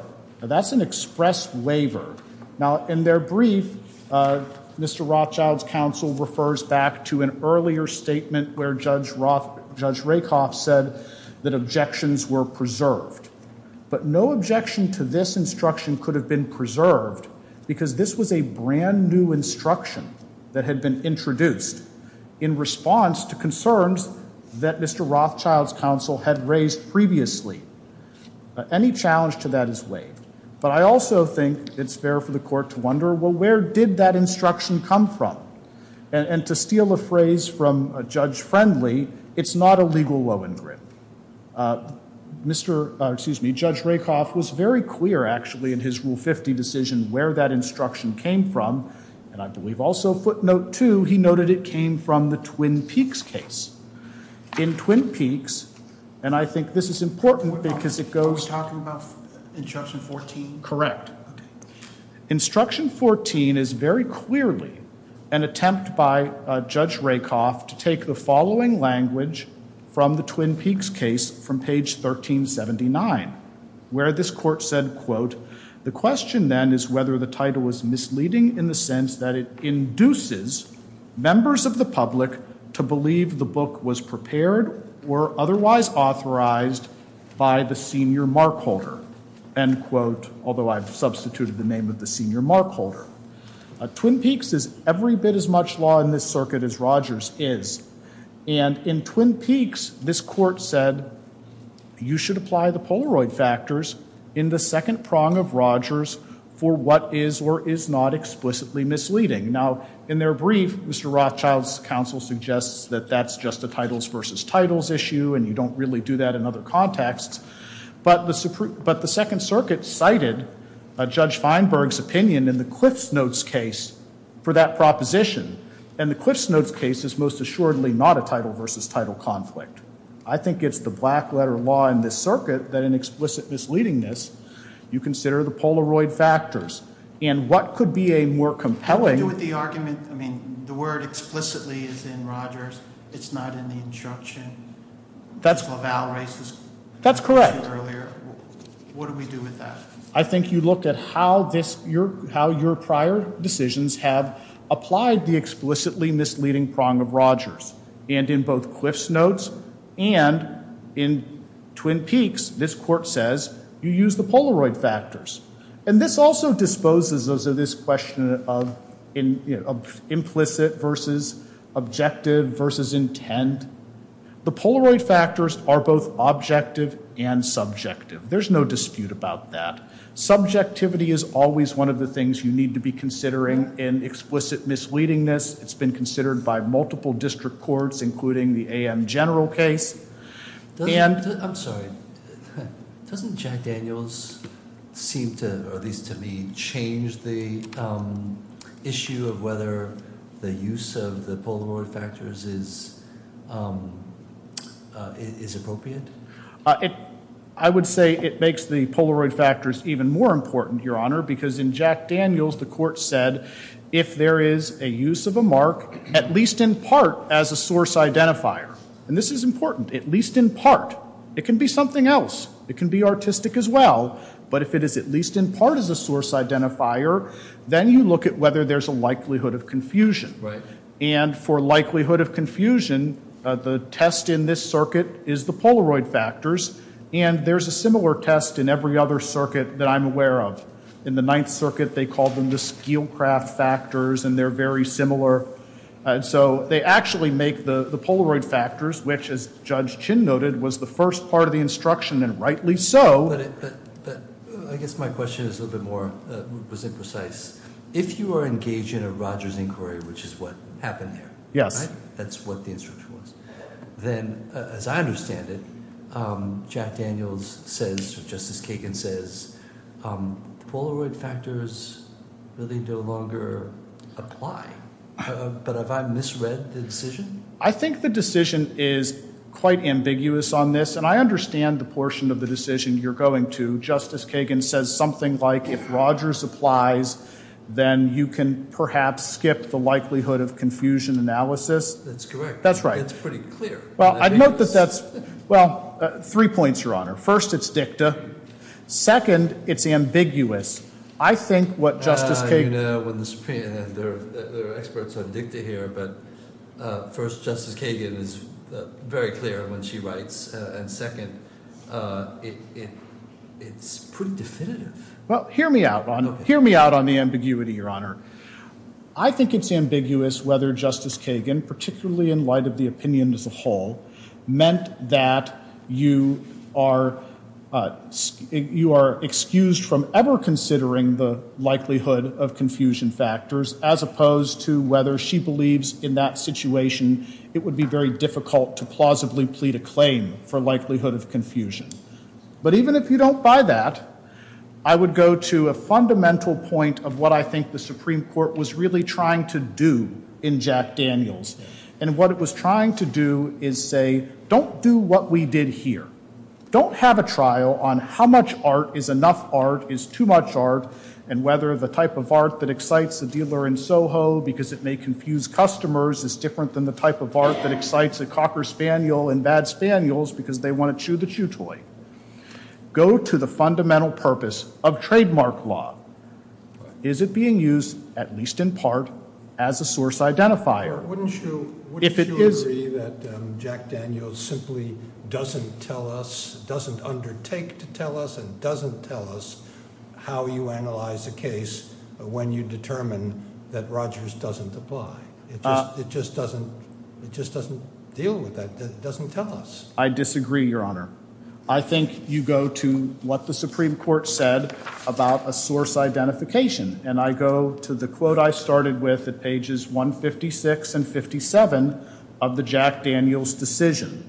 Now, that's an expressed waiver. Now, in their brief, Mr. Rothschild's counsel refers back to an earlier statement where Judge Rakoff said that objections were preserved. But no objection to this instruction could have been preserved because this was a brand new instruction that had been introduced in response to concerns that Mr. Rothschild's counsel had raised previously. Any challenge to that is waived. But I also think it's fair for the court to wonder, well, where did that instruction come from? And to steal a phrase from a judge friendly, it's not a legal low-end grip. Mr., excuse me, Judge Rakoff was very clear, actually, in his Rule 50 decision where that instruction came from. And I believe also footnote two, he noted it came from the Twin Peaks case. In Twin Peaks, and I think this is important because it goes... You're talking about Instruction 14? Correct. Instruction 14 is very clearly an attempt by Judge Rakoff to take the following language from the Twin Peaks case from page 1379, where this court said, quote, the question then is whether the title was misleading in the sense that it induces members of the public to believe the book was prepared or otherwise authorized by the senior mark holder. End quote. Although I've substituted the name of the senior mark holder. Twin Peaks is every bit as much law in this circuit as Rogers is. And in Twin Peaks, this court said, you should apply the Polaroid factors in the second prong of Rogers for what is or is not explicitly misleading. Now, in their brief, Mr. Rothschild's counsel suggests that that's just a titles versus titles issue and you don't really do that in other contexts. But the Second Circuit cited Judge Feinberg's opinion in the CliffsNotes case for that proposition. And the CliffsNotes case is most assuredly not a title versus title conflict. I think it's the black letter law in this circuit that in explicit misleadingness you consider the Polaroid factors. And what could be a more compelling... The argument... I mean, the word explicitly is in Rogers. It's not in the instruction. That's... That's correct. What do we do with that? I think you look at how this... how your prior decisions have applied the explicitly misleading prong of Rogers. And in both CliffsNotes and in Twin Peaks, this court says, you use the Polaroid factors. And this also disposes of this question of implicit versus objective versus intent. The Polaroid factors are both objective and subjective. There's no dispute about that. Subjectivity is always one of the things you need to be considering in explicit misleadingness. It's been considered by multiple district courts, including the A.M. General case. And... I'm sorry. Doesn't Jack Daniels seem to, or at least to me, change the issue of whether the use of the Polaroid factors is appropriate? I would say it makes the Polaroid factors even more important, Your Honor, because in Jack Daniels, the court said if there is a use of a mark, at least in part, as a source identifier. And this is important. At least in part. It can be something else. It can be artistic as well. But if it is at least in part as a source identifier, then you look at whether there's a likelihood of confusion. And for likelihood of confusion, the test in this circuit is the Polaroid factors. And there's a similar test in every other circuit that I'm aware of. In the Ninth Circuit, they called them the Skelcraft factors, and they're very similar. So they actually make the Polaroid factors, which, as Judge Chin noted, was the first part of the instruction, and rightly so. I guess my question is a little bit more precise. If you are engaged in a Rogers inquiry, which is what happened there, that's what the instruction was, then, as I understand it, Jack Daniels says, Justice Kagan says, Polaroid factors really no longer apply. But have I misread the decision? I think the decision is quite ambiguous on this, and I understand the portion of the decision you're going to. Justice Kagan says something like, if Rogers applies, then you can perhaps skip the likelihood of confusion analysis. That's correct. That's right. It's pretty clear. Well, I note that that's... Well, three points, Your Honor. First, it's dicta. Second, it's ambiguous. I think what Justice Kagan... You know, when the Supreme has their experts on dicta here, but first, Justice Kagan is very clear when she writes. And second, it's pretty definitive. Well, hear me out, Your Honor. Hear me out on the ambiguity, Your Honor. I think it's ambiguous whether Justice Kagan, particularly in light of the opinion as a whole, meant that you are... you are excused from ever considering the likelihood of confusion factors as opposed to whether she believes in that situation it would be very difficult to plausibly plead a claim for likelihood of confusion. But even if you don't buy that, I would go to a fundamental point of what I think the Supreme Court was really trying to do in Jack Daniels. And what it was trying to do is say, don't do what we did here. Don't have a trial on how much art is enough art, is too much art, and whether the type of art that excites the dealer in Soho because it may confuse customers is different than the type of art that excites a cocker spaniel and bad spaniels because they want to chew the chew toy. Go to the fundamental purpose of trademark law. Is it being used, at least in part, as a source identifier? Wouldn't you agree that Jack Daniels simply doesn't tell us, doesn't undertake to tell us, and doesn't tell us how you analyze a case when you determine that Rogers doesn't apply? It just doesn't deal with that. It doesn't tell us. I disagree, Your Honor. I think you go to what the Supreme Court said about a source identification. And I go to the quote I started with at pages 156 and 57 of the Jack Daniels decision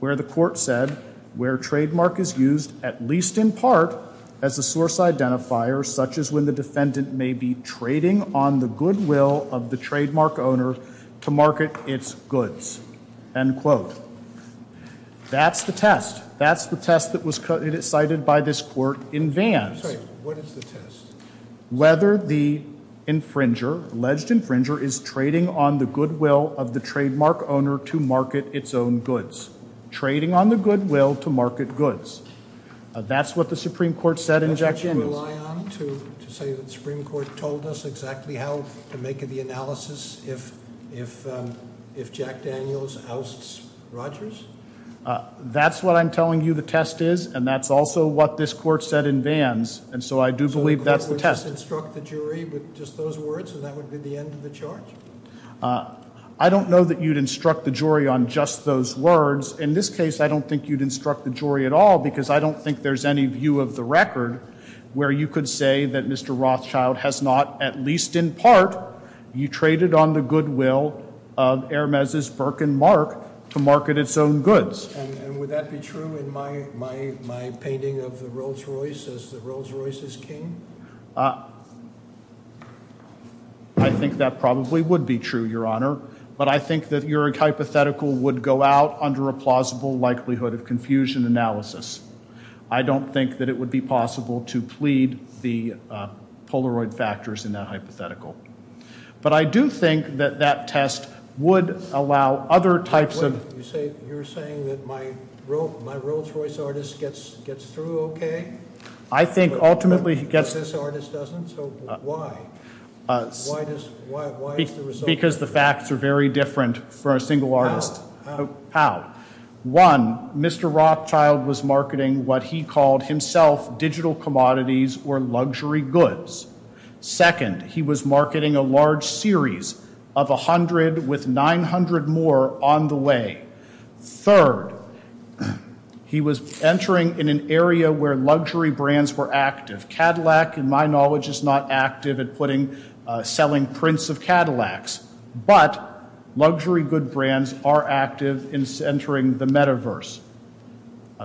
where the court said where trademark is used at least in part as a source identifier such as when the defendant may be trading on the goodwill of the trademark owner to market its goods. End quote. That's the test. That's the test that was cited by this court in Vance. What is the test? Whether the infringer, alleged infringer, is trading on the goodwill of the trademark owner to market its own goods. Trading on the goodwill to market goods. That's what the Supreme Court said in Jack Daniels. To say that the Supreme Court told us exactly how to make the analysis if Jack Daniels ousts Rogers? That's what I'm telling you the test is. And that's also what this court said in Vance. And so I do believe that's the test. Would you instruct the jury with just those words and that would be the end of the charge? I don't know that you'd instruct the jury on just those words. In this case, I don't think you'd instruct the jury at all because I don't think there's any view of the record where you could say that Mr. Rothschild has not at least in part, you traded on the goodwill of Hermes' Burke and Mark to market its own goods. And would that be true in my painting of the Rolls-Royce as the Rolls-Royce's king? I think that probably would be true, Your Honor. But I think that your hypothetical would go out under a plausible likelihood of confusion analysis. I don't think that it would be possible to plead the Polaroid factors in that hypothetical. But I do think that that test would allow other types of... You're saying that my Rolls-Royce artist gets through okay? I think ultimately he gets... This artist doesn't, so why? Why is the result... Because the facts are very different for a single artist. How? One, Mr. Rothschild was marketing what he called himself digital commodities or luxury goods. Second, he was marketing a large series of 100 with 900 more on the way. he was entering in an area where luxury brands were active. Cadillac, in my knowledge, is not active at putting... selling prints of Cadillacs. But, luxury good brands are active in centering the metaverse.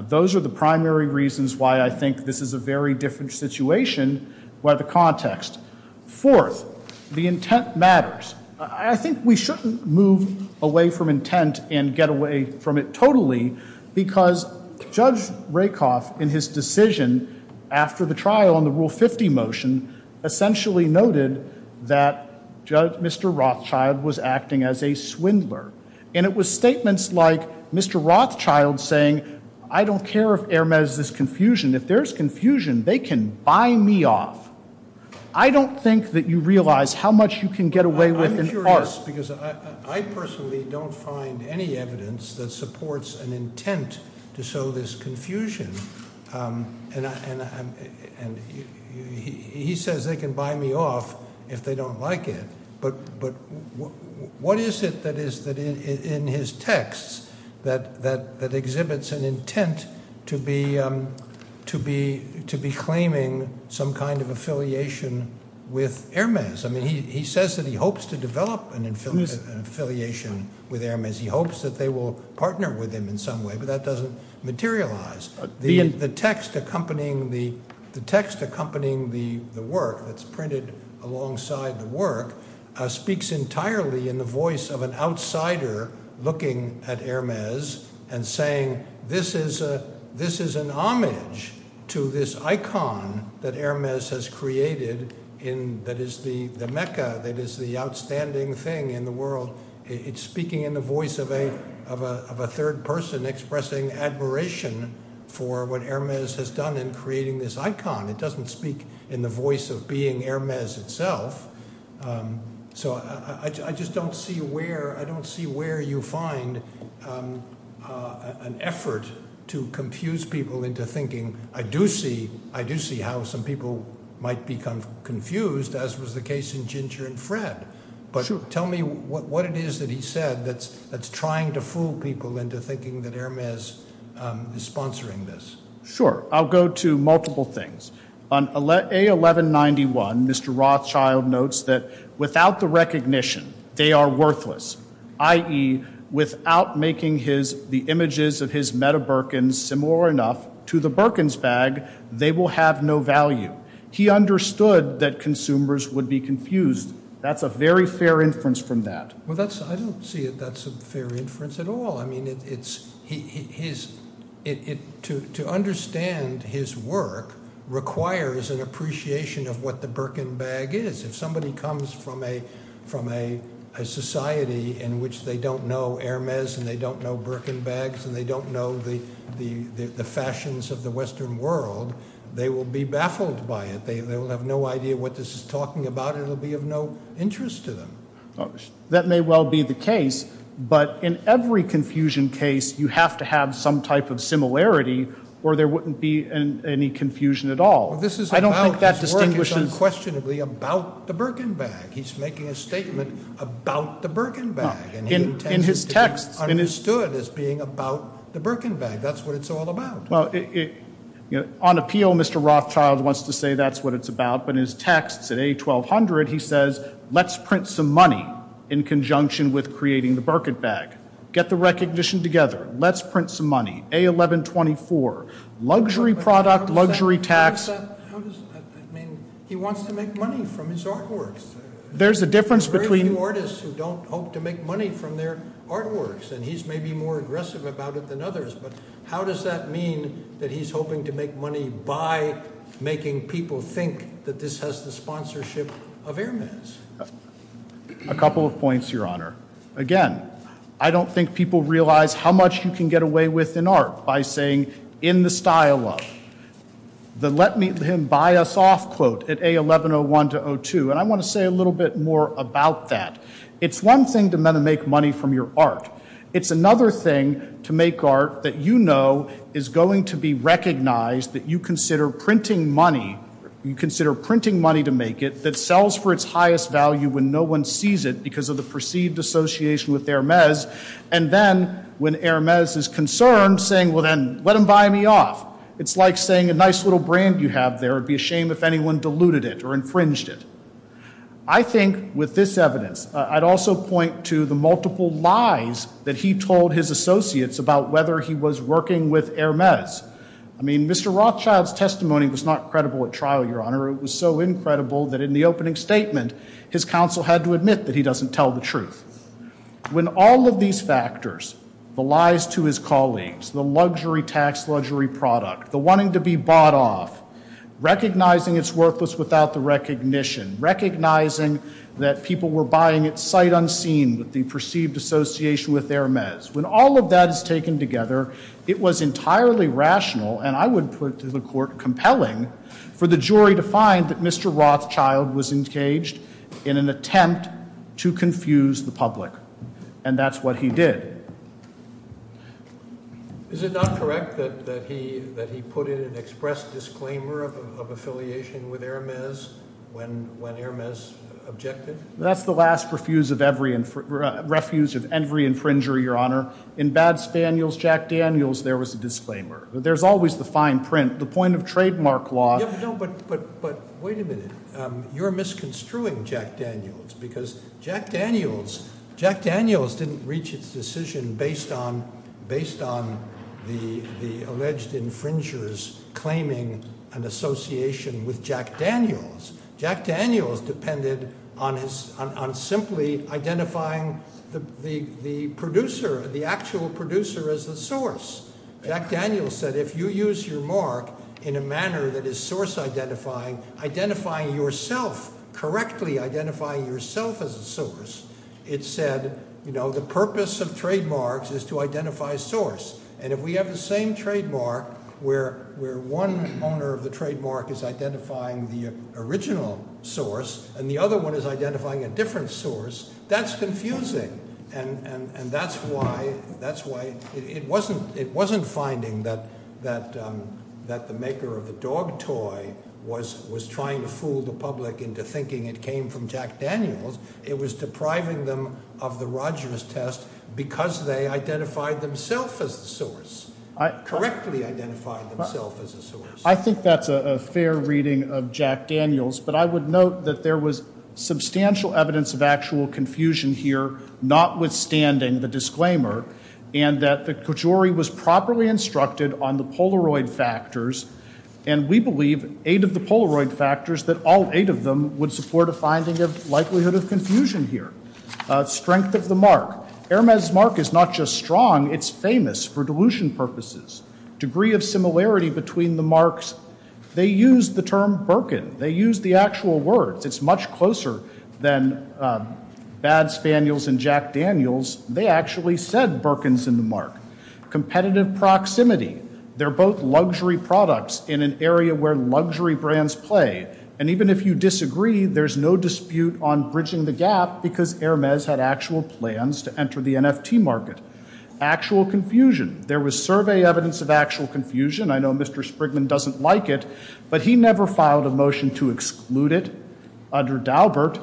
Those are the primary reasons why I think this is a very different situation by the context. Fourth, the intent matters. I think we shouldn't move away from intent and get away from it totally because Judge Rakoff in his decision after the trial on the Rule 50 motion essentially noted that Mr. Rothschild was acting as a swindler. And it was statements like Mr. Rothschild saying, I don't care if there's this confusion. If there's confusion, they can buy me off. I don't think that you realize how much you can get away with in art. because I personally don't find any evidence that supports an intent to sow this confusion. He says they can buy me off if they don't like it. But what is it that is in his text that exhibits an intent to be claiming some kind of affiliation with Hermes? He says that he hopes to develop an affiliation with Hermes. He hopes that they will partner with him in some way. But that doesn't materialize. The text accompanying the work that's printed alongside the work speaks entirely in the voice of an outsider looking at Hermes and saying this is an homage to this icon that Hermes has created that is the mecca that is the outstanding thing in the world. It's speaking in the voice of a third person expressing admiration for what has done in creating this icon. It doesn't speak in the voice of being Hermes itself. So I just don't see where I don't see where you find an effort to confuse people into thinking I do see how some people might become confused as was the case in Ginger and But tell me what it is that he said that's trying to fool people into thinking that Hermes is sponsoring this. Sure. I'll go to multiple things. On A1191, Mr. Rothschild notes that without the recognition they are worthless, i.e., without making the images of his meta-Birkin similar enough to the Birkin's bag, they will have no value. He understood that consumers would be confused. That's a very fair inference from that. I don't see that as a fair inference at all. To understand his work requires an of what the Birkin bag is. If somebody comes from a society in which they don't know Hermes and they don't know Birkin bags and they don't know the fashions of the world, they will be baffled by it. They will have no idea what this is talking about. It will be of no interest to them. That may well be the case, but in every confusion case you have to have some type of or there wouldn't be any confusion at all. I don't think that's questionably about the Birkin bag. He's making a statement about the Birkin bag. He understood this being about the Birkin bag. That's what it's all about. On appeal Mr. Rothschild wants to say that's what it's about, but his text at A1200 he says let's print some money in conjunction with creating the Birkin bag. Get the recognition together. Let's print some money. A1124. Luxury product, luxury text. He wants to make money from his art works. There's a difference between very few artists who don't hope to make money from their art works. How does that mean he's hoping to make money by making people think this has the of air mats. Again, I don't think people realize how much you can get away with in art by saying in the first place it's one thing to make money from your art. It's another thing to make art that you know is going to be recognized that you consider printing money to make it that sells for its highest value when no one sees it because of the association with air mats. When air mats is concerned, let them buy me off. It's like saying it would be a shame if anyone deluded it. I think with this evidence, I'd also point to the multiple lies he told his associates about whether he was working with air mats. I mean, Mr. Rothschild's testimony was not credible at trial, Your Honor. It was so incredible that in the opening statement his counsel had to admit that he doesn't tell the truth. When all of these factors, the lies to his colleagues, the luxury tax luxury product, the wanting to be bought off, recognizing his work was without the recognition, recognizing that people were buying it sight unseen with the perceived association with air mats. When all of that is taken together, it was entirely rational, and I would put to the compelling for the jury to find that Mr. Rothschild was engaged in an attempt to confuse the public, and that's what he did. Is it not correct that he put in an express disclaimer of affiliation with air mats when air mats objected? That's the last refuse of every infringer, Your Honor. In Jack Daniels, there was a disclaimer. There's always the fine mark law. But wait a minute. You're misconstruing Jack Daniels because Jack Daniels didn't reach its decision based on the alleged infringers claiming an with Jack Daniels. Jack Daniels depended on simply identifying the producer, the actual producer, as the source. Jack Daniels said if you use your mark in a manner that is source identifying, yourself, correctly identifying yourself as a source, it said, you know, the purpose of trademarks is to source. And if we have the same trademark where one owner of the trademark is identifying the original source and the other owner of trademark maker of the dog toy was trying to fool the public into thinking it came from Jack Daniels, it was depriving them of the test because they identified themselves as a source. Correctly identifying themselves as a source. I think that's a fair reading of Jack Daniels, but I would note that there was substantial evidence of actual confusion here, notwithstanding the disclaimer, and that the couturi was properly instructed on the Polaroid factors, and we have dilution purposes, degree of similarity between the marks, they used the actual word, it's much closer than Jack Daniels, they actually said Berkins in the mark. Competitive proximity, they're both luxury products in an area where luxury brands play, and even if you disagree, there's no dispute on bridging the gap because Hermes had actual plans to enter the NFT market. Actual confusion, there was survey evidence of actual confusion, I know Mr. Sprigman doesn't like it, but he never filed a motion to exclude it under the mark.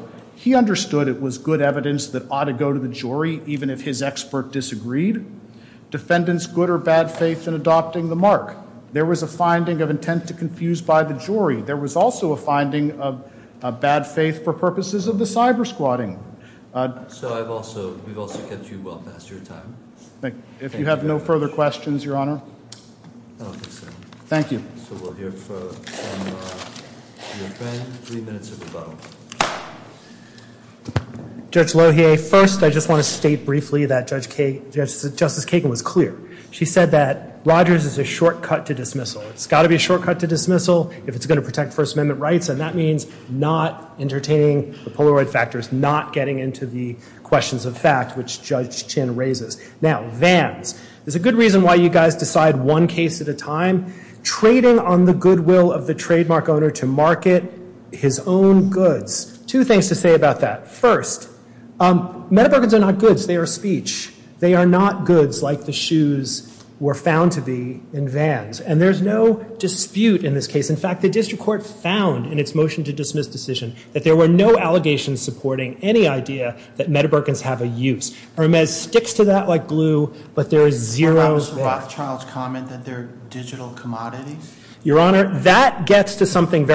There was a finding of intent to confuse by the jury, there was also a of bad faith for purposes of the cyber squatting. If you have no further questions, honor. Thank you. Judge Lohier, first I want to state briefly that Justice Kagan was clear. She said that Rogers is a shortcut to dismissal. It's got to be to dismissal if it's going to protect First Amendment rights. Vance, there's a good reason why you guys decide one case at a time. They are speech. They are not goods like the shoes were found to be in There's no dispute in this case. There were no allegations supporting any idea that they have a use. It sticks to that like glue but there is zero what. That gets to something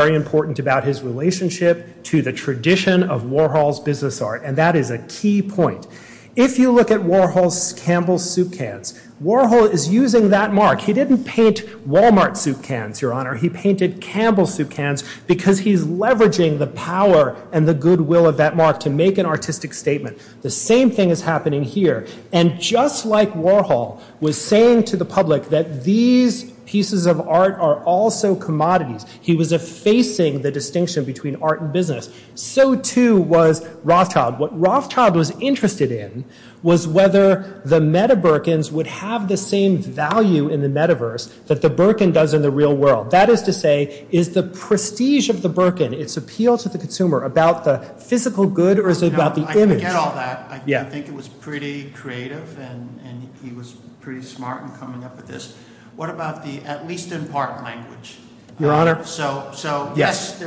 else. If you look at Warhol's Campbell soup cans, he didn't paint Walmart soup He painted Campbell soup cans because he's leveraging the power and good will to make an artistic statement. The same thing is happening here. Just like Warhol was saying to the public that these pieces of art are commodities, he was effacing the distinction between art and business. So, too, was Rothschild. What Rothschild was interested in was whether the meta-Burkins would have the same value in the metaverse that the Burkin does in the real world. That is to say, is the prestige of the appeals to the consumer about the physical good or bad there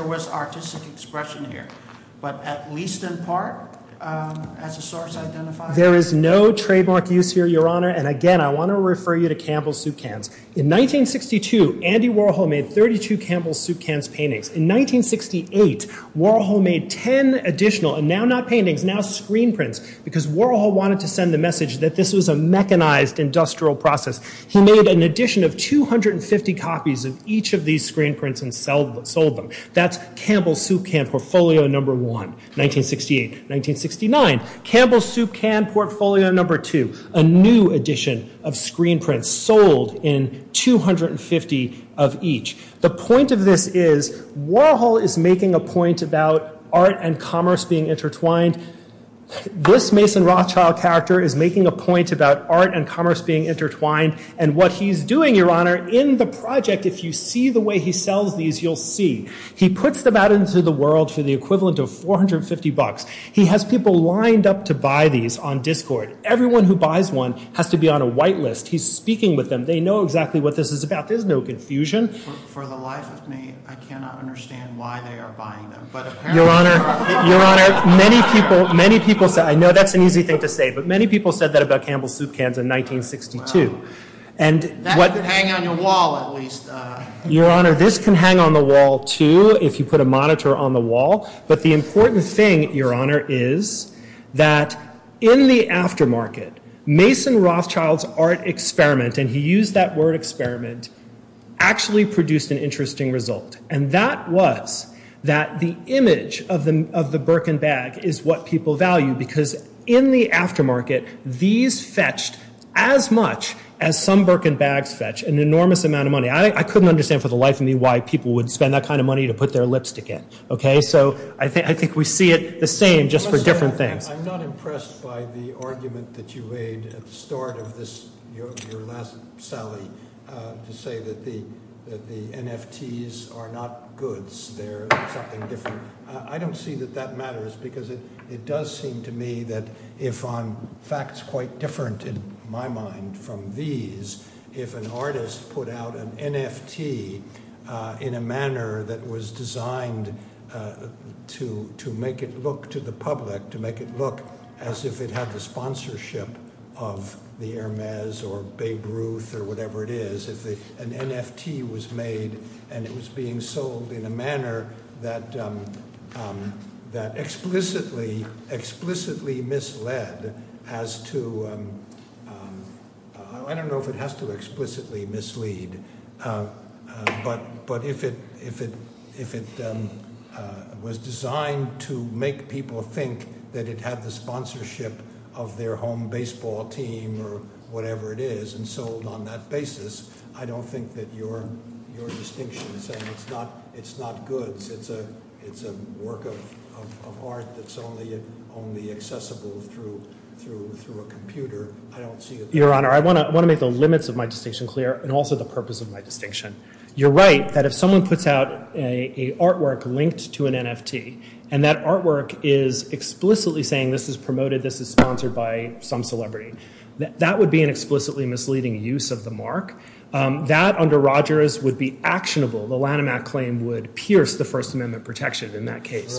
was artistic expression here, but at least in part, there is no trademark use here, honor. In 1962, Warhol made 32 paintings. In 1968, Warhol wanted to send a message that this was a mechanized industrial process. He made an addition of 250 copies of each of these screen prints and sold them. That is the portfolio number one. A new edition of screen prints sold in 250 of each. The point of this is Warhol is making a point about art and commerce being intertwined. This Mason Rothschild character is making a point about art and commerce being intertwined. In the project, if you see the way he sells these, you will see. He has people lined up to buy these. Everyone who buys one has to be on a white list. speaking with them. They know what this is about. no confusion. Many people said that about Campbell Soup Cans in 1962. This can hang on the wall, too, if you put a monitor on the The important thing is that in the after market, Mason Rothschild art experiment produced an interesting result. That was that the image of the Birken bag is what people value. In the after market, these fetch as much as some Birken bag fetch. I couldn't understand why people would spend that kind of money to put their lipstick in. I think we see it the same. I'm not impressed by the argument that you made at the start of this, to say that the NFTs are not goods. I don't see that that matters because it does seem to me that if I'm fact quite different in my mind from these, if an artist put out an NFT in a manner that was designed to make it look to the public to make it look as if it had the sponsorship of the Hermes or Babe Ruth or whatever it is, if an NFT was made and it was being sold in a manner that explicitly misled as to I don't know if it has to explicitly mislead, but if it was designed to make people think that it had the sponsorship of their home baseball team or whatever it is, and sold on that basis, I don't think that your distinction is that it's not goods. It's a work of art that's only accessible through a I don't see a difference. Your Honor, I want to make the limits of my distinction clear and also the purpose of my distinction. You're right that if someone puts out an artwork linked to an NFT and that artwork is explicitly saying this is promoted, this is sponsored by some celebrity, that would be an explicitly misleading use of the mark. That under Rogers would be actionable. The Lanham Act claim would pierce the First Amendment protection in that case.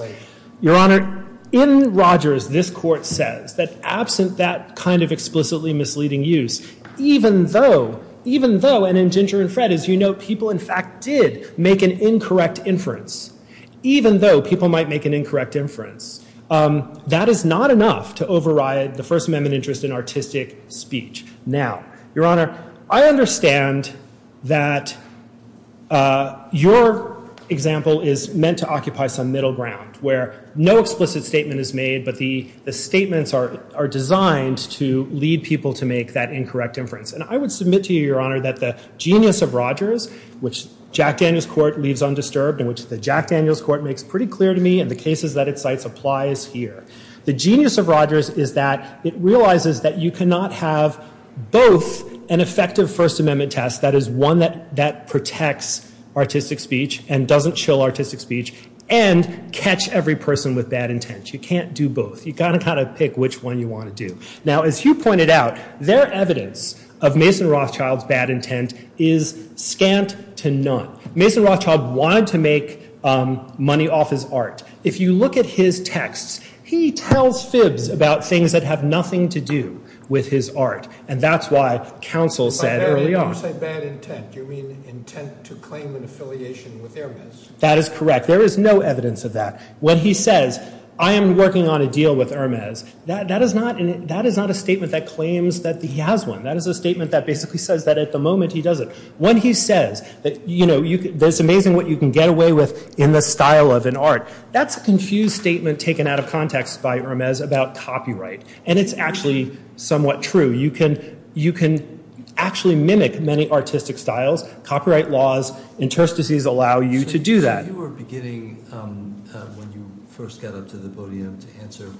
Your Honor, in Rogers, this court says that absent that kind of explicitly misleading use, even though, even though, and in Ginger and Fred, as you know, people in fact did make an inference, even though people might make an inference, that is not enough to override the First Amendment protection. in artistic speech. Now, Your Honor, I understand that your example is meant to occupy some middle ground where no explicit statement is made but the statements are designed to lead people to make that incorrect inference. I would submit to you that the genius of Rogers, which Jack Daniels Court makes pretty clear to me, the genius of Rogers is that it realizes that you cannot have both an effective First Amendment test that protects artistic speech and doesn't chill artistic speech and catch every person with bad intent. You can't do both. As you pointed out, their evidence of Mason Rothschild's bad intent is scant to none. Mason Rothschild wanted to make money off his art. If you look at his text, he tells fibs about things that have nothing to do with his art and that's why counsel said early on. That is correct. There is no evidence of that. When he says, I am working on a deal with that is not a statement that claims he has one. When he says, it's amazing what you can get away with in the style of an art, that's a confused statement taken out of context about copyright. It's somewhat true. You can get away is, what if determined that does not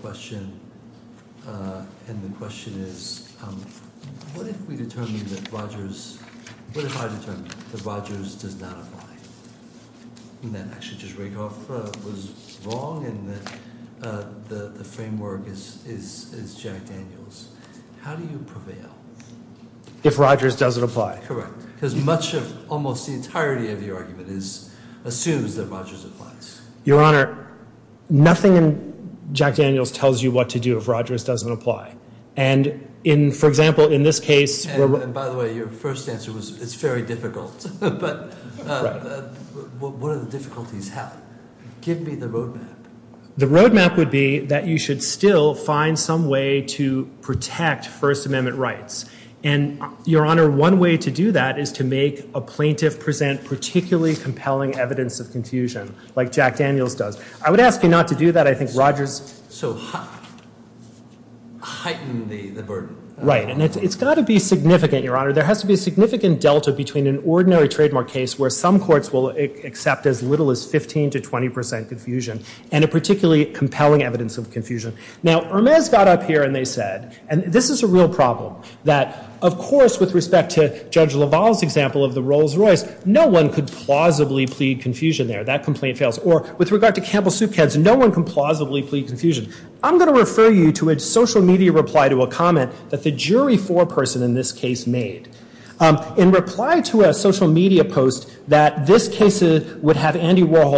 apply? The framework is Jack Daniels. How do you prevail? If Rogers doesn't apply. Much of the argument assumes that Jack Daniels tells you what to do if Rogers doesn't apply. Your first answer was, difficult. What are Give me the road map. You should find some way to protect first amendment rights. One way to do that is to make a plaintiff present particularly compelling evidence of I would ask you not to do that. It's got to be significant. There has to be delta where some courts will accept as little as 15 to 20 percent confusion. This is a real problem. Of course with respect to the example of the Rolls Royce, no one could plead confusion. I'm going to refer you to a social media reply to a comment that the jury made. In reply to a social media post, this is what There has to be some question of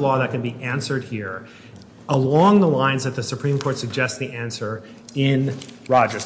law that can be answered here along the lines that the Supreme Court suggests the answer in Rogers. Thank you. The record has expired. Thank